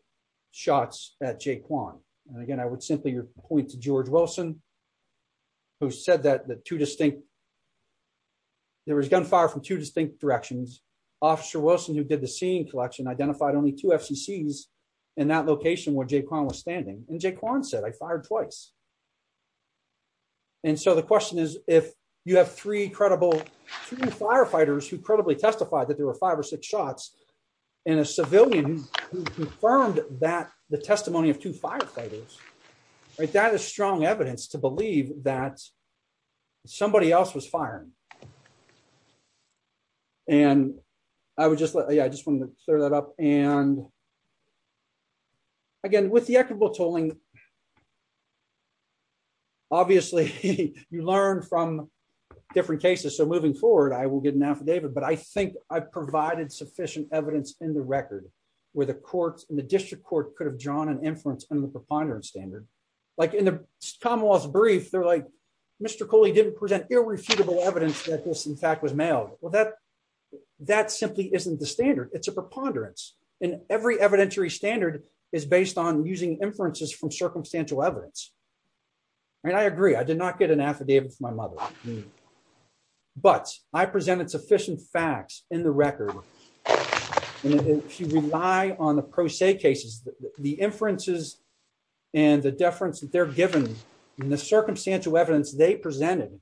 shots at Jake one. And again, I would simply point to George Wilson. Who said that the two distinct. There was gunfire from two distinct directions. Officer Wilson, who did the scene collection, identified only two secs in that location where Jake was standing and Jake said, I fired twice. And so the question is, if you have three credible firefighters who probably testified that there were five or six shots in a civilian confirmed that the testimony of two firefighters. That is strong evidence to believe that somebody else was firing. And I would just yeah, I just want to clear that up and. Again, with the equitable tooling. Obviously, you learn from different cases. So moving forward, I will get an affidavit. But I think I've provided sufficient evidence in the record where the courts in the district court could have drawn an influence on the preponderance standard. Like in the Commonwealth's brief, they're like, Mr. Cooley didn't present irrefutable evidence that this, in fact, was mailed. Well, that that simply isn't the standard. It's a preponderance in every evidentiary standard is based on using inferences from circumstantial evidence. And I agree, I did not get an affidavit from my mother. But I presented sufficient facts in the record. And if you rely on the pro se cases, the inferences and the deference that they're given in the circumstantial evidence they presented.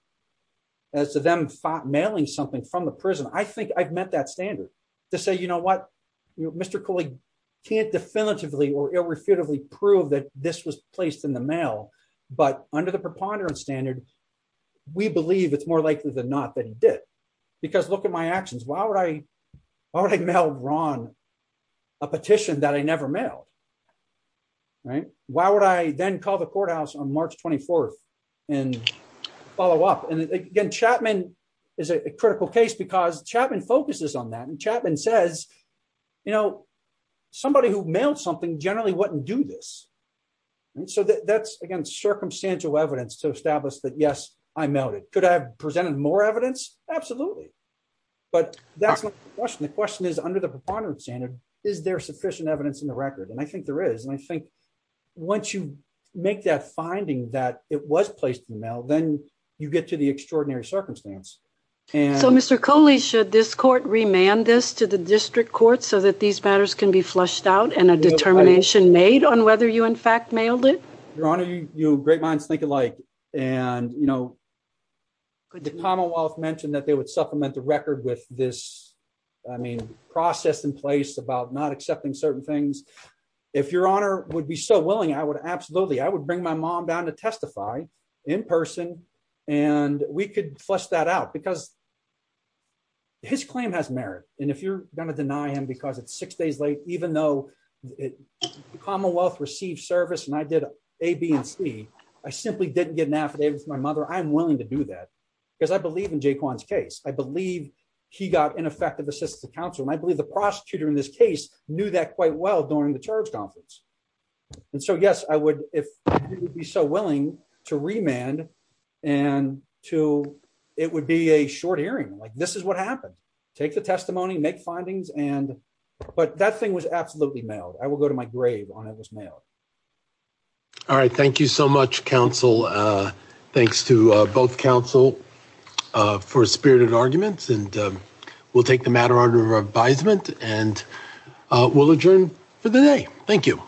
As to them mailing something from the prison, I think I've met that standard to say, you know what, Mr. Cooley can't definitively or irrefutably prove that this was placed in the mail. But under the preponderance standard, we believe it's more likely than not that he did. Because look at my actions. Why would I mail Ron a petition that I never mailed? Why would I then call the courthouse on March 24th and follow up? And again, Chapman is a critical case because Chapman focuses on that. And Chapman says, you know, somebody who mailed something generally wouldn't do this. So that's, again, circumstantial evidence to establish that, yes, I mailed it. Could I have presented more evidence? Absolutely. But that's the question. The question is, under the standard, is there sufficient evidence in the record? And I think there is. And I think once you make that finding that it was placed in the mail, then you get to the extraordinary circumstance. So, Mr. Coley, should this court remand this to the district court so that these matters can be flushed out and a determination made on whether you, in fact, mailed it? Your Honor, you have a great mind to think alike. And, you know, the Commonwealth mentioned that they would supplement the record with this, I mean, process in place about not accepting certain things. If Your Honor would be so willing, I would absolutely, I would bring my mom down to testify in person and we could flush that out because his claim has merit. And if you're going to deny him because it's six days late, even though the Commonwealth received service and I did A, B, and C, I simply didn't get an affidavit from my mother. I'm willing to do that because I believe in Jaquan's case. I believe he got ineffective assistance from counsel. And I believe the prosecutor in this case knew that quite well during the charge conference. And so, yes, I would, if you would be so willing, to remand and to, it would be a short hearing. Like, this is what happened. Take the testimony, make findings, and, but that thing was absolutely mailed. I will go to my grave when it was mailed. All right. Thank you so much, counsel. Thanks to both counsel for spirited arguments and we'll take the matter under advisement and we'll adjourn for the day. Thank you.